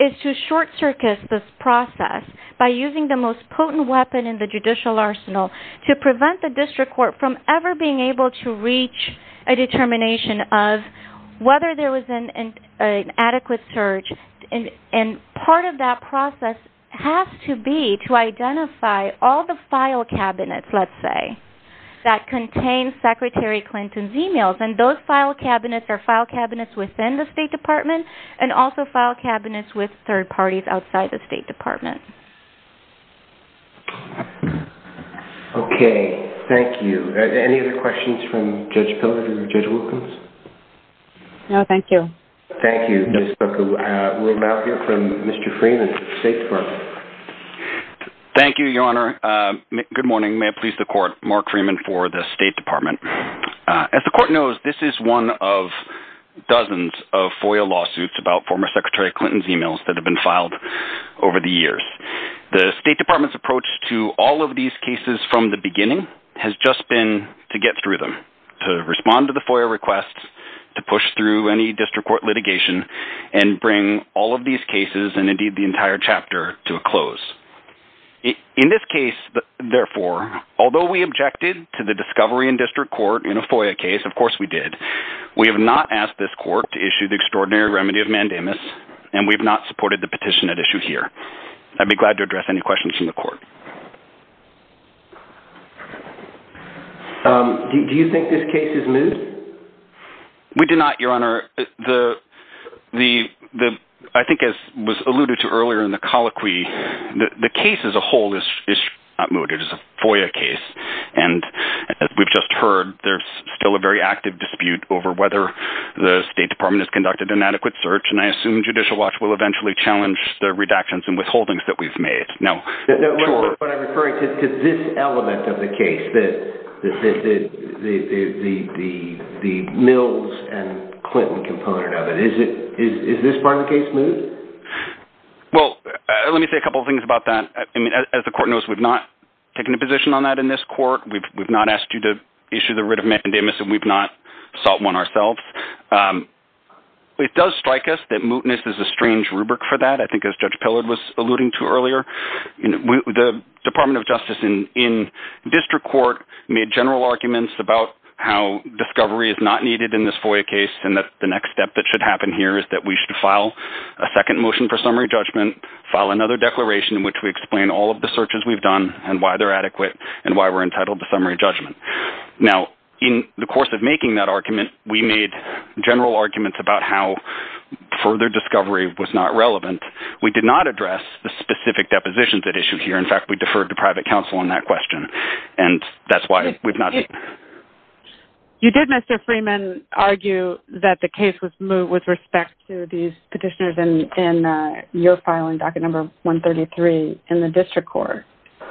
is to short-circus this process by using the most potent weapon in the judicial arsenal to prevent the district court from ever being able to reach a determination of whether there was an adequate search. And part of that process has to be to identify all the file cabinets, let's say, that contain Secretary Clinton's emails. And those file cabinets are file cabinets within the State Department and also file cabinets with third parties outside the State Department. Okay, thank you. Any questions from Judge Pilgrim or Judge Wilkins? No, thank you. Thank you, Judge Pilgrim. We'll now hear from Mr. Freeman of the State Department. Thank you, Your Honor. Good morning. May it please the Court. Mark Freeman for the State Department. As the Court knows, this is one of dozens of FOIA lawsuits about former Secretary Clinton's emails that have been filed over the years. The State Department's approach to all of these cases from the beginning has just been to get through them, to respond to the FOIA requests, to push through any district court litigation, and bring all of these cases, and indeed the entire chapter, to a close. In this case, therefore, although we objected to the discovery in district court in a FOIA case, of course we did, we have not asked this Court to issue the extraordinary remedy of mandamus, and we have not supported the petition at issue here. I'd be glad to address any questions from the Court. Do you think this case is loose? We do not, Your Honor. I think as was alluded to earlier in the colloquy, the case as a whole is not moot, it is a FOIA case. And as we've just heard, there's still a very active dispute over whether the State Department has conducted an adequate search, and I assume Judicial Watch will eventually challenge the redactions and withholdings that we've made. But I'm referring to this element of the case, the Mills and Clinton component of it. Is this part of the case moot? Well, let me say a couple of things about that. As the Court knows, we've not taken a position on that in this Court, we've not asked you to issue the writ of mandamus, and we've not sought one ourselves. It does strike us that mootness is a strange rubric for that, I think as Judge Pillard was alluding to earlier. The Department of Justice in District Court made general arguments about how discovery is not needed in this FOIA case, and that the next step that should happen here is that we should file a second motion for summary judgment, file another declaration in which we explain all of the searches we've done, and why they're adequate, and why we're entitled to summary judgment. Now, in the course of making that argument, we made general arguments about how further discovery was not relevant, we did not address the specific depositions that issue here, in fact, we deferred to private counsel on that question, and that's why we've not... You did, Mr. Freeman, argue that the case was moot with respect to these petitioners in your filing, docket number 133, in the District Court.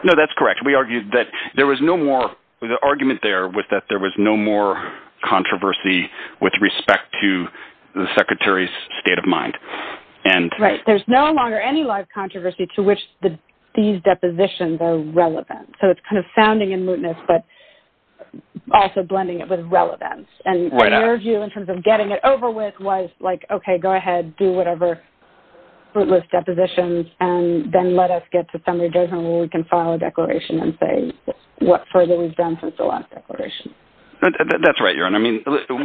No, that's correct. We argued that there was no more, the argument there was that there was no more controversy with respect to the Secretary's state of mind. Right, there's no longer any live controversy to which these depositions are relevant. So it's kind of sounding in mootness, but also blending it with relevance. Right on. And your view, in terms of getting it over with, was like, okay, go ahead, do whatever mootless depositions, and then let us get to summary judgment where we can file a declaration and say what further we've done since the last declaration. That's right, Euron.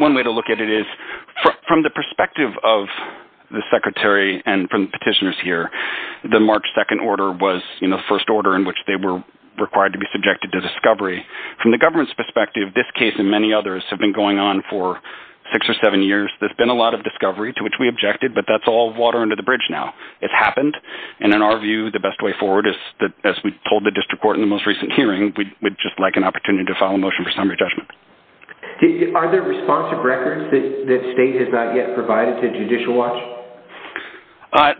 One way to look at it is from the perspective of the Secretary and from the petitioners here, the March 2nd order was the first order in which they were required to be subjected to discovery. From the government's perspective, this case and many others have been going on for six or seven years. There's been a lot of discovery to which we objected, but that's all water under the bridge now. It happened, and in our view, the best way forward is, as we told the District Court in the most recent hearing, we'd just like an opportunity to file a motion for summary judgment. Are there responsive records that the state has not yet provided to Judicial Watch?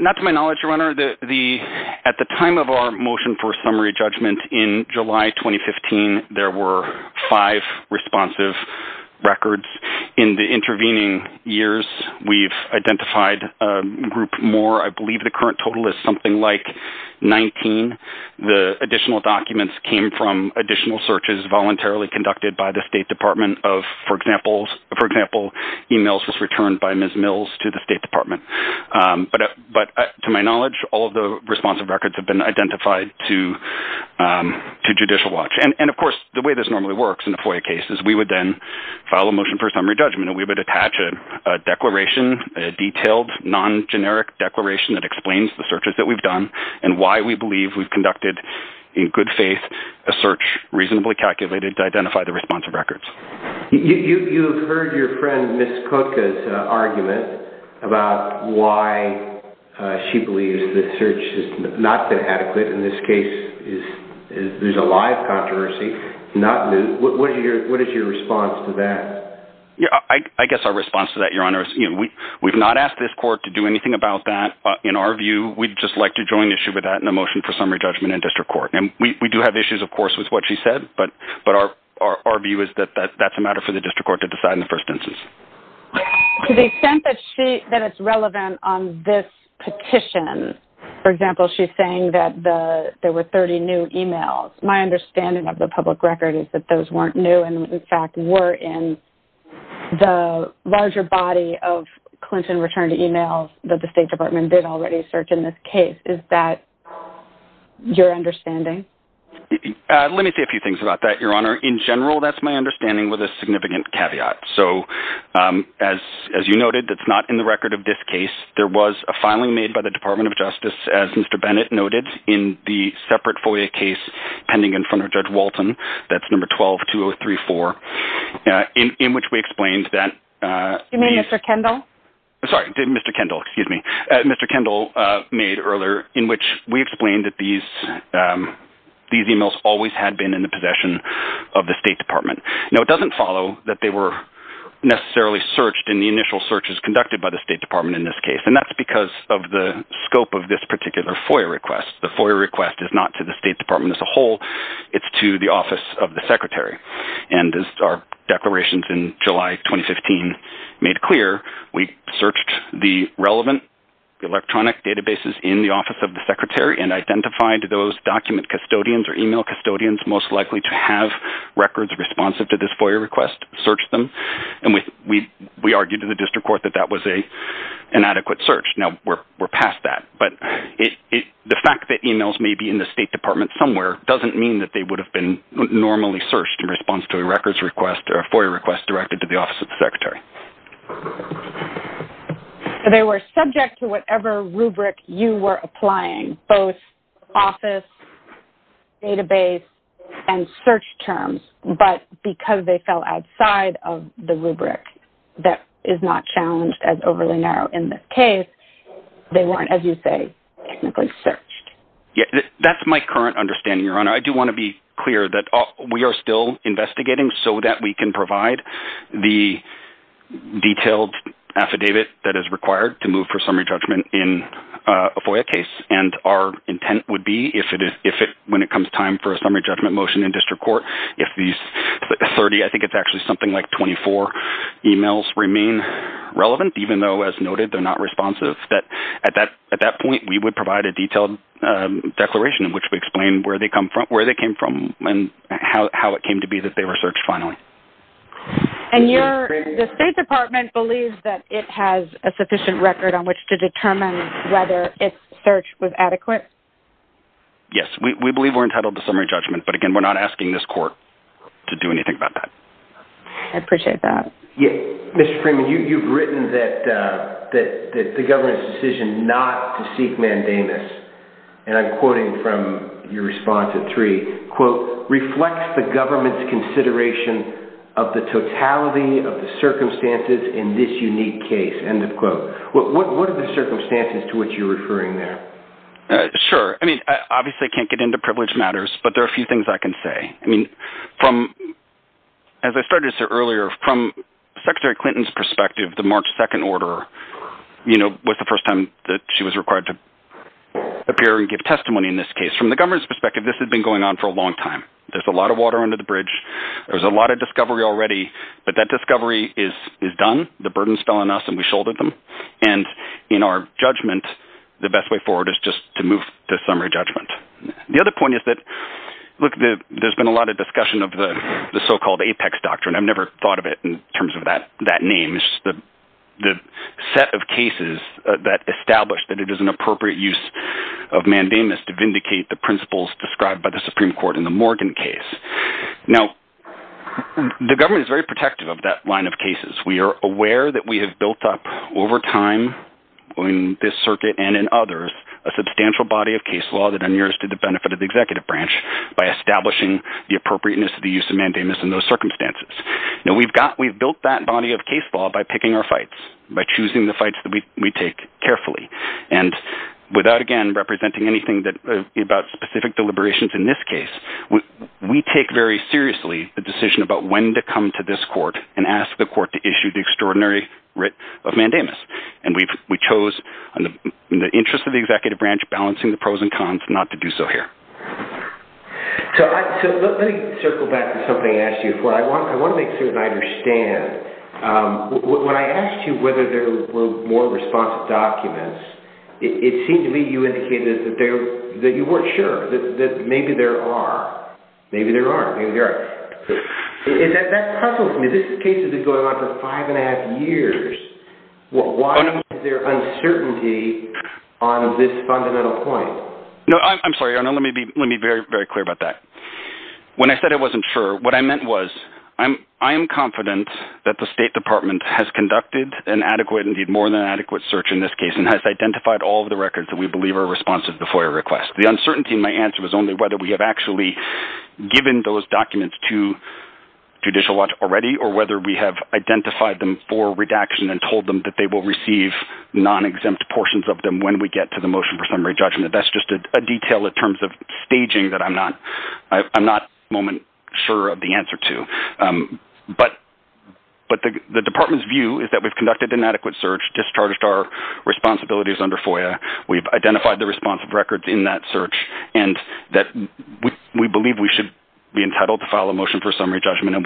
Not to my knowledge, Your Honor. At the time of our motion for summary judgment in July 2015, there were five responsive records. In the intervening years, we've identified a group more. I believe the current total is something like 19. The additional documents came from additional searches voluntarily conducted by the State Department of, for example, emails just returned by Ms. Mills to the State Department. But to my knowledge, all of the responsive records have been identified to Judicial Watch. And, of course, the way this normally works in a FOIA case is we would then file a motion for summary judgment, and we would attach a declaration, a detailed, non-generic declaration that explains the searches that we've done and why we believe we've conducted, in good faith, a search reasonably calculated to identify the responsive records. You've heard your friend Ms. Cook's argument about why she believes the search is not going to happen. In this case, there's a lot of controversy. What is your response to that? I guess our response to that, Your Honor, is we've not asked this court to do anything about that. In our view, we'd just like to join the issue with that and file a motion for summary judgment in district court. And we do have issues, of course, with what she said, but our view is that that's a matter for the district court to decide in the first instance. To the extent that it's relevant on this petition, for example, she's saying that there were 30 new emails. My understanding of the public record is that those weren't new and, in fact, were in the larger body of Clinton returned emails that the State Department did already search in this case. Is that your understanding? Let me say a few things about that, Your Honor. In general, that's my understanding with a significant caveat. So, as you noted, that's not in the record of this case. There was a filing made by the Department of Justice, as Mr. Bennett noted, in the separate FOIA case pending in front of Judge Walton, that's number 12-2034, in which we explained that... You mean Mr. Kendall? Sorry, Mr. Kendall, excuse me. Mr. Kendall made earlier, in which we explained that these emails always had been in the possession of the State Department. Now, it doesn't follow that they were necessarily searched in the initial searches conducted by the State Department in this case, and that's because of the scope of this particular FOIA request. The FOIA request is not to the State Department as a whole. It's to the Office of the Secretary. And as our declarations in July 2015 made clear, we searched the relevant electronic databases in the Office of the Secretary and identified those document custodians or email custodians most likely to have records responsive to this FOIA request, searched them, and we argued to the district court that that was an adequate search. Now, we're past that. But the fact that emails may be in the State Department somewhere doesn't mean that they would have been normally searched in response to a records request or a FOIA request directed to the Office of the Secretary. They were subject to whatever rubric you were applying, both office, database, and search terms, but because they fell outside of the rubric that is not challenged as overly narrow in this case, they weren't, as you say, technically searched. Yes, that's my current understanding, Your Honor. I do want to be clear that we are still investigating so that we can provide the detailed affidavit that is required to move for summary judgment in a FOIA case. And our intent would be if when it comes time for a summary judgment motion in district court, if these 30, I think it's actually something like 24, emails remain relevant, even though, as noted, they're not responsive. At that point, we would provide a detailed declaration which would explain where they came from and how it came to be that they were searched finally. And the State Department believes that it has a sufficient record on which to determine whether its search was adequate? Yes, we believe we're entitled to summary judgment, but again, we're not asking this court to do anything about that. I appreciate that. Mr. Freeman, you've written that the government's decision not to seek mandamus, and I'm quoting from your response to Tree, quote, reflects the government's consideration of the totality of the circumstances in this unique case, end of quote. What are the circumstances to which you're referring there? Sure. I mean, obviously I can't get into privilege matters, but there are a few things I can say. I mean, as I started to say earlier, from Secretary Clinton's perspective, the March 2nd order, you know, was the first time that she was required to appear and give testimony in this case. From the government's perspective, this has been going on for a long time. There's a lot of water under the bridge. There's a lot of discovery already, but that discovery is done. The burdens fell on us and we shouldered them. And in our judgment, the best way forward is just to move to summary judgment. The other point is that, look, there's been a lot of discussion of the so-called Apex Doctrine. I've never thought of it in terms of that name. It's the set of cases that establish that it is an appropriate use of mandamus to vindicate the principles described by the Supreme Court in the Morgan case. Now, the government is very protective of that line of cases. We are aware that we have built up, over time, in this circuit and in others, a substantial body of case law that inures to the benefit of the executive branch by establishing the appropriateness of the use of mandamus in those circumstances. Now, we've built that body of case law by picking our fights, by choosing the fights that we take carefully. And without, again, representing anything about specific deliberations in this case, we take very seriously the decision about when to come to this court and ask the court to issue the extraordinary writ of mandamus. And we chose, in the interest of the executive branch, balancing the pros and cons not to do so here. So let me circle back to something I asked you before. I want to make sure that I understand. When I asked you whether there were more responsive documents, it seemed to me you indicated that you weren't sure, that maybe there are. Maybe there are. Maybe there aren't. Is that puzzling to me? This case has been going on for five and a half years. Why is there uncertainty on this fundamental point? No, I'm sorry. Let me be very clear about that. When I said I wasn't sure, what I meant was, I am confident that the State Department has conducted an adequate, indeed more than adequate, search in this case and has identified all of the records that we believe are responsive to FOIA requests. The uncertainty in my answer was only whether we have actually given those documents to Judicial Watch already or whether we have identified them for redaction and told them that they will receive non-exempt portions of them when we get to the motion for summary judgment. That's just a detail in terms of staging that I'm not at this moment sure of the answer to. But the Department's view is that we've conducted an adequate search, discharged our responsibilities under FOIA. We've identified the responsive records in that search and that we believe we should be entitled to file a motion for summary judgment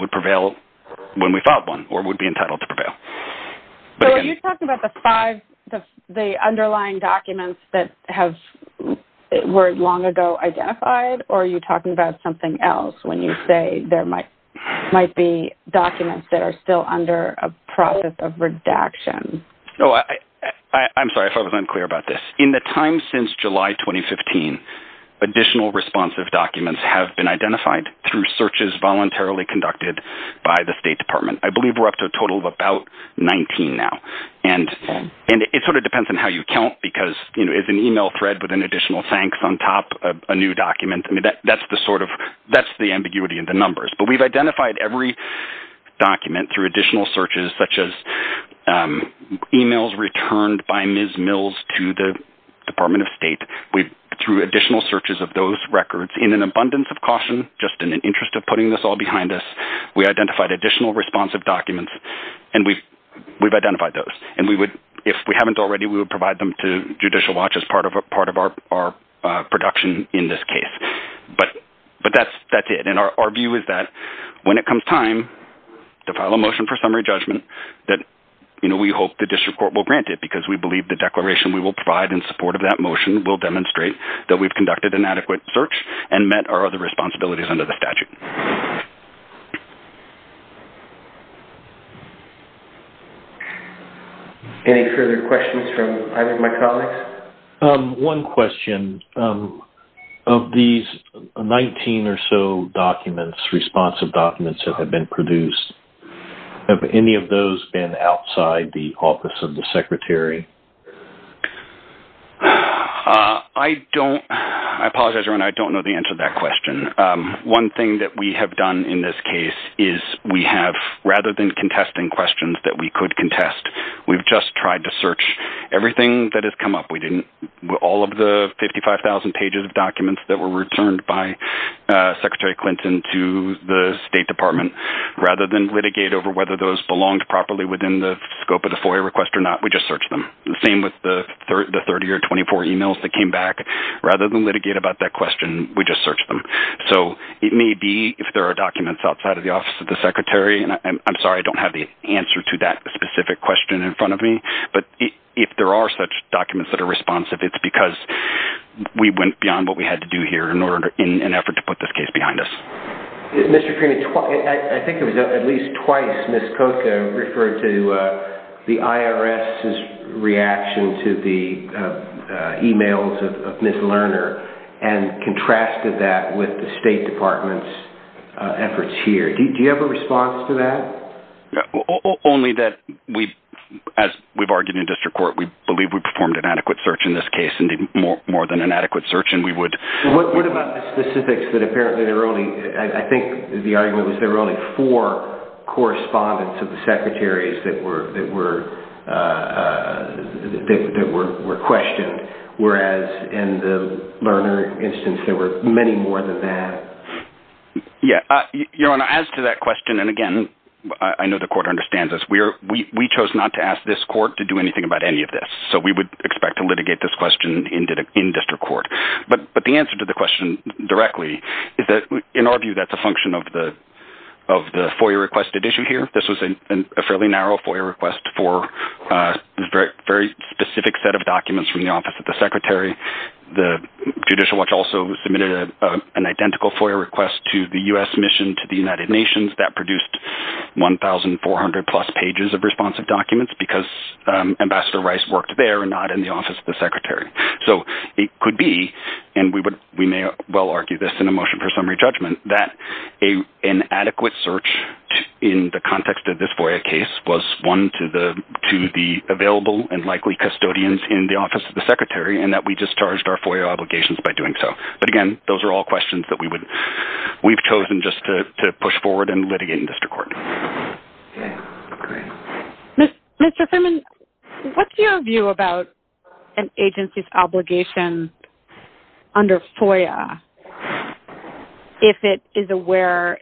So are you talking about the underlying documents that were long ago identified or are you talking about something else when you say there might be documents that are still under a process of redaction? I'm sorry if I wasn't clear about this. In the time since July 2015, additional responsive documents have been identified through searches voluntarily conducted by the State Department. I believe we're up to a total of about 19 now. And it sort of depends on how you count because it's an email thread with an additional thanks on top of a new document. That's the ambiguity in the numbers. But we've identified every document through additional searches such as emails returned by Ms. Mills to the Department of State. Through additional searches of those records in an abundance of caution, just in the interest of putting this all behind us, we identified additional responsive documents and we've identified those. And if we haven't already, we would provide them to Judicial Watch as part of our production in this case. But that's it. And our view is that when it comes time to file a motion for summary judgment, that we hope the District Court will grant it because we believe the declaration we will provide in support of that motion will demonstrate that we've conducted an adequate search and met our other responsibilities under the statute. Thank you. Any further questions from my colleagues? One question. Of these 19 or so documents, responsive documents that have been produced, have any of those been outside the Office of the Secretary? I don't know the answer to that question. One thing that we have done in this case is we have, rather than contesting questions that we could contest, we've just tried to search everything that has come up. All of the 55,000 pages of documents that were returned by Secretary Clinton to the State Department, rather than litigate over whether those belonged properly within the scope of the FOIA request or not, we just searched them. The same with the 30 or 24 emails that came back. Rather than litigate about that question, we just searched them. So it may be, if there are documents outside of the Office of the Secretary, and I'm sorry I don't have the answer to that specific question in front of me, but if there are such documents that are responsive, it's because we went beyond what we had to do here in an effort to put this case behind us. Mr. Creeney, I think it was at least twice Ms. Koko referred to the IRS's reaction to the emails of Ms. Lerner, and contrasted that with the State Department's efforts here. Do you have a response to that? Only that, as we've argued in district court, we believe we performed an adequate search in this case, indeed more than an adequate search, and we would... What about the specifics that apparently there were only, I think the argument was there were only four correspondence to the secretaries that were questioned, whereas in the Lerner instance there were many more than that. Yeah. Your Honor, as to that question, and again, I know the court understands this, we chose not to ask this court to do anything about any of this. So we would expect to litigate this question in district court. But the answer to the question directly is that, in our view, that's a function of the FOIA-requested issue here. This was a fairly narrow FOIA request for a very specific set of documents from the Office of the Secretary. The Judicial Watch also submitted an identical FOIA request to the U.S. Mission to the United Nations that produced 1,400-plus pages of responsive documents because Ambassador Rice worked there, not in the Office of the Secretary. So it could be, and we may well argue this in a motion for summary judgment, that an adequate search in the context of this FOIA case was one to the available and likely custodians in the Office of the Secretary and that we discharged our FOIA obligations by doing so. But again, those are all questions that we've chosen just to push forward and litigate in district court. Mr. Furman, what's your view about an agency's obligation under FOIA if it is aware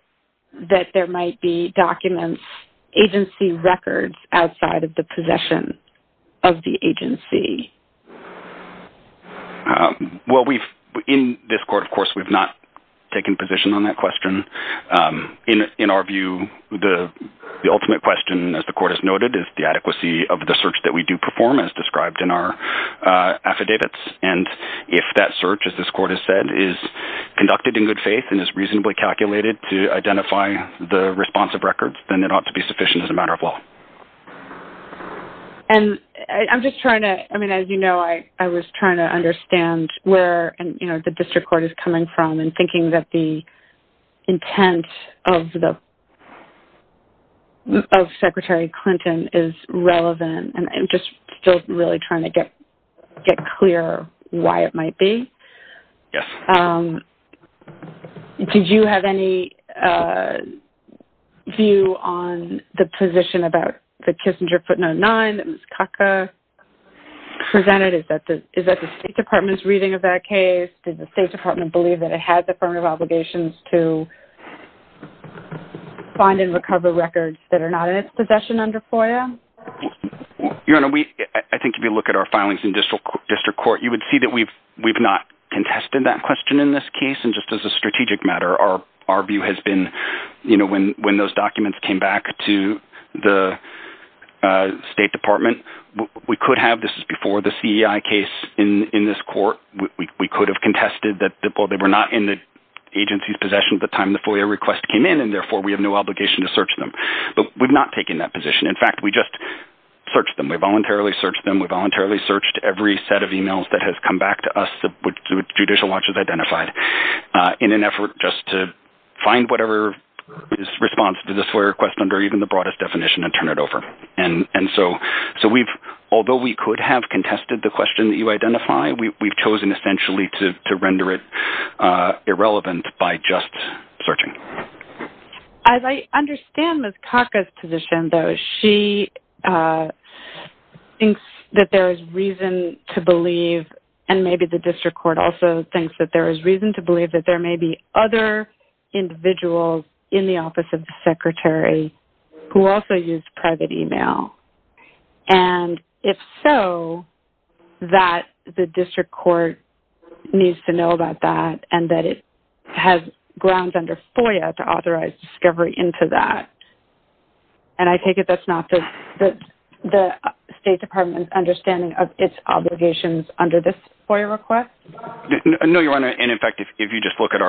that there might be documents, agency records, outside of the possession of the agency? Well, in this court, of course, we've not taken position on that question. In our view, the ultimate question, as the court has noted, is the adequacy of the search that we do perform as described in our affidavits. And if that search, as this court has said, is conducted in good faith and is reasonably calculated to identify the responsive records, then it ought to be sufficient as a matter of law. And I'm just trying to, I mean, as you know, I was trying to understand where the district court is coming from and thinking that the intent of Secretary Clinton is relevant. And I'm just still really trying to get clear why it might be. Yes. Did you have any view on the position about the Kissinger footnote 9 that Ms. Kaka presented? Is that the State Department's reading of that case? Does the State Department believe that it has affirmative obligations to find and recover records that are not in its possession under FOIA? Your Honor, I think if you look at our filings in district court, you would see that we've not contested that question in this case. And just as a strategic matter, our view has been, you know, when those documents came back to the State Department, we could have before the CEI case in this court, we could have contested that they were not in the agency's possession at the time the FOIA request came in, and therefore we have no obligation to search them. But we've not taken that position. In fact, we just searched them. We voluntarily searched them. We voluntarily searched every set of emails that has come back to us that Judicial Watch has identified in an effort just to find whatever response to this FOIA request under even the broadest definition and turn it over. And so although we could have contested the question that you identified, we've chosen essentially to render it irrelevant by just searching. As I understand Ms. Kaka's position, though, she thinks that there is reason to believe, and maybe the district court also thinks that there is reason to believe, that there may be other individuals in the Office of the Secretary who also used private email. And if so, that the district court needs to know about that and that it has grounds under FOIA to authorize discovery into that. And I take it that's not the State Department's understanding of its obligations under this FOIA request? No, Your Honor, and, in fact, if you just look at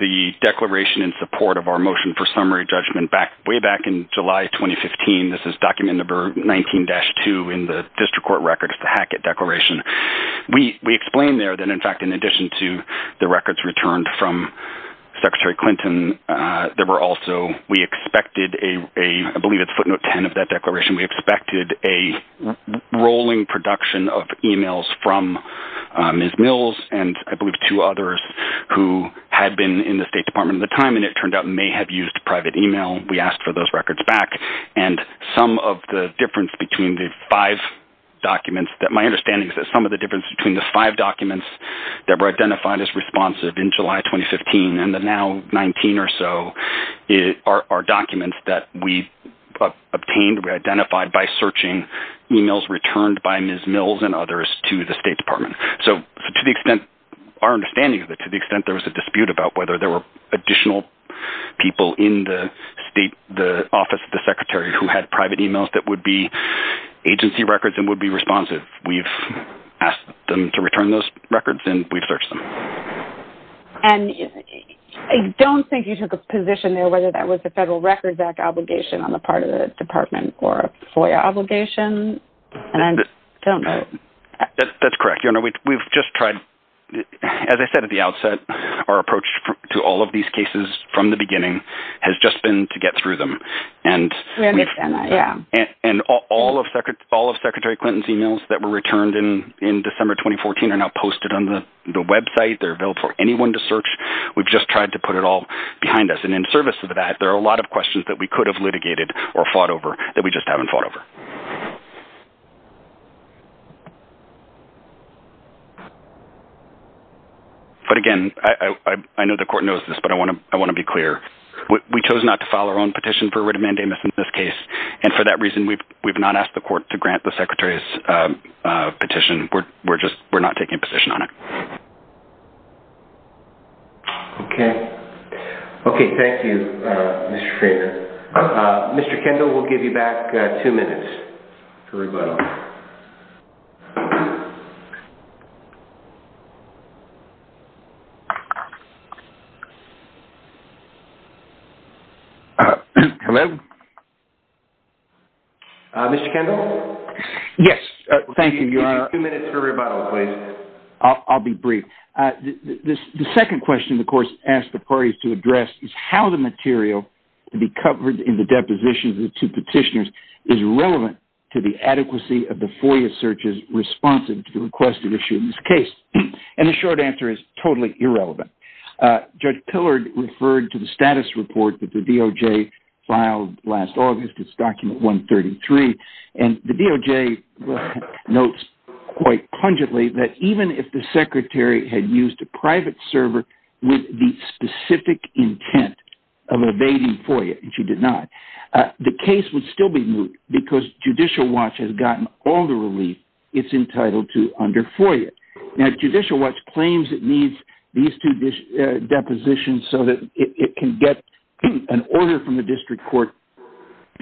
the declaration in support of our motion for summary judgment way back in July 2015, this is document number 19-2 in the district court records, the Hackett Declaration. We explained there that, in fact, in addition to the records returned from Secretary Clinton, there were also we expected a, I believe it's footnote 10 of that declaration, we expected a rolling production of emails from Ms. Mills and I believe two others who had been in the State Department at the time and it turned out may have used private email. We asked for those records back. And some of the difference between the five documents, my understanding is that some of the difference between the five documents that were identified as responsive in July 2015 and the now 19 or so are documents that we obtained, were identified by searching emails returned by Ms. Mills and others to the State Department. So to the extent, our understanding is that to the extent there was a dispute about whether there were additional people in the state, the office of the Secretary who had private emails that would be agency records and would be responsive, we've asked them to return those records and we've searched them. And I don't think you took a position there whether that was the Federal Records Act obligation on the part of the department or FOIA obligation and I don't know. That's correct. We've just tried, as I said at the outset, our approach to all of these cases from the beginning has just been to get through them. We understand that, yeah. And all of Secretary Clinton's emails that were returned in December 2014 are now posted on the website. They're available for anyone to search. We've just tried to put it all behind us. And in service of that, there are a lot of questions that we could have litigated or fought over that we just haven't fought over. But, again, I know the court knows this, but I want to be clear. We chose not to file our own petition for writ of mandamus in this case, and for that reason we've not asked the court to grant the Secretary's petition. We're just not taking a position on it. Okay. Okay, thank you, Mr. Schrader. Mr. Kendall, we'll give you back two minutes to rebuttal. Hello? Mr. Kendall? Yes, thank you. You have two minutes to rebuttal, please. I'll be brief. The second question the court has asked the parties to address is how the material to be covered in the deposition of the two petitioners is relevant to the adequacy of the FOIA searches responsive to the requested issue in this case. And the short answer is totally irrelevant. Judge Pillard referred to the status report that the DOJ filed last August. It's Document 133. And the DOJ notes quite pungently that even if the Secretary had used a private server with the specific intent of evading FOIA, which he did not, the case would still be moved because Judicial Watch has gotten all the relief it's entitled to under FOIA. Now, Judicial Watch claims it needs these two depositions so that it can get an order from the district court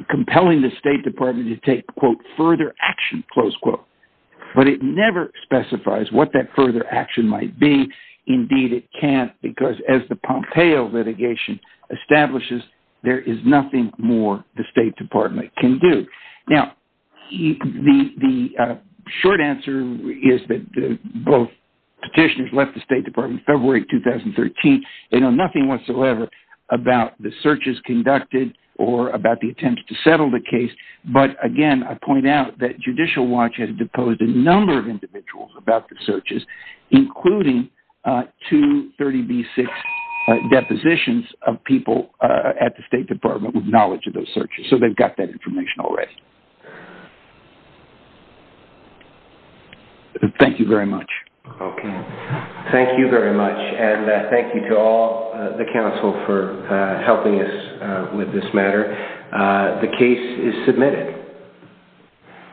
compelling the State Department to take, quote, further action, close quote. But it never specifies what that further action might be. Indeed, it can't because as the Pompeo litigation establishes, there is nothing more the State Department can do. Now, the short answer is that both petitioners left the State Department in February 2013. They know nothing whatsoever about the searches conducted or about the intent to settle the case. But again, I point out that Judicial Watch has deposed a number of individuals about the searches, including two 30B6 depositions of people at the State Department with knowledge of those searches. So they've got that information already. Thank you very much. Okay. Thank you very much. And thank you to all the counsel for helping us with this matter. The case is submitted.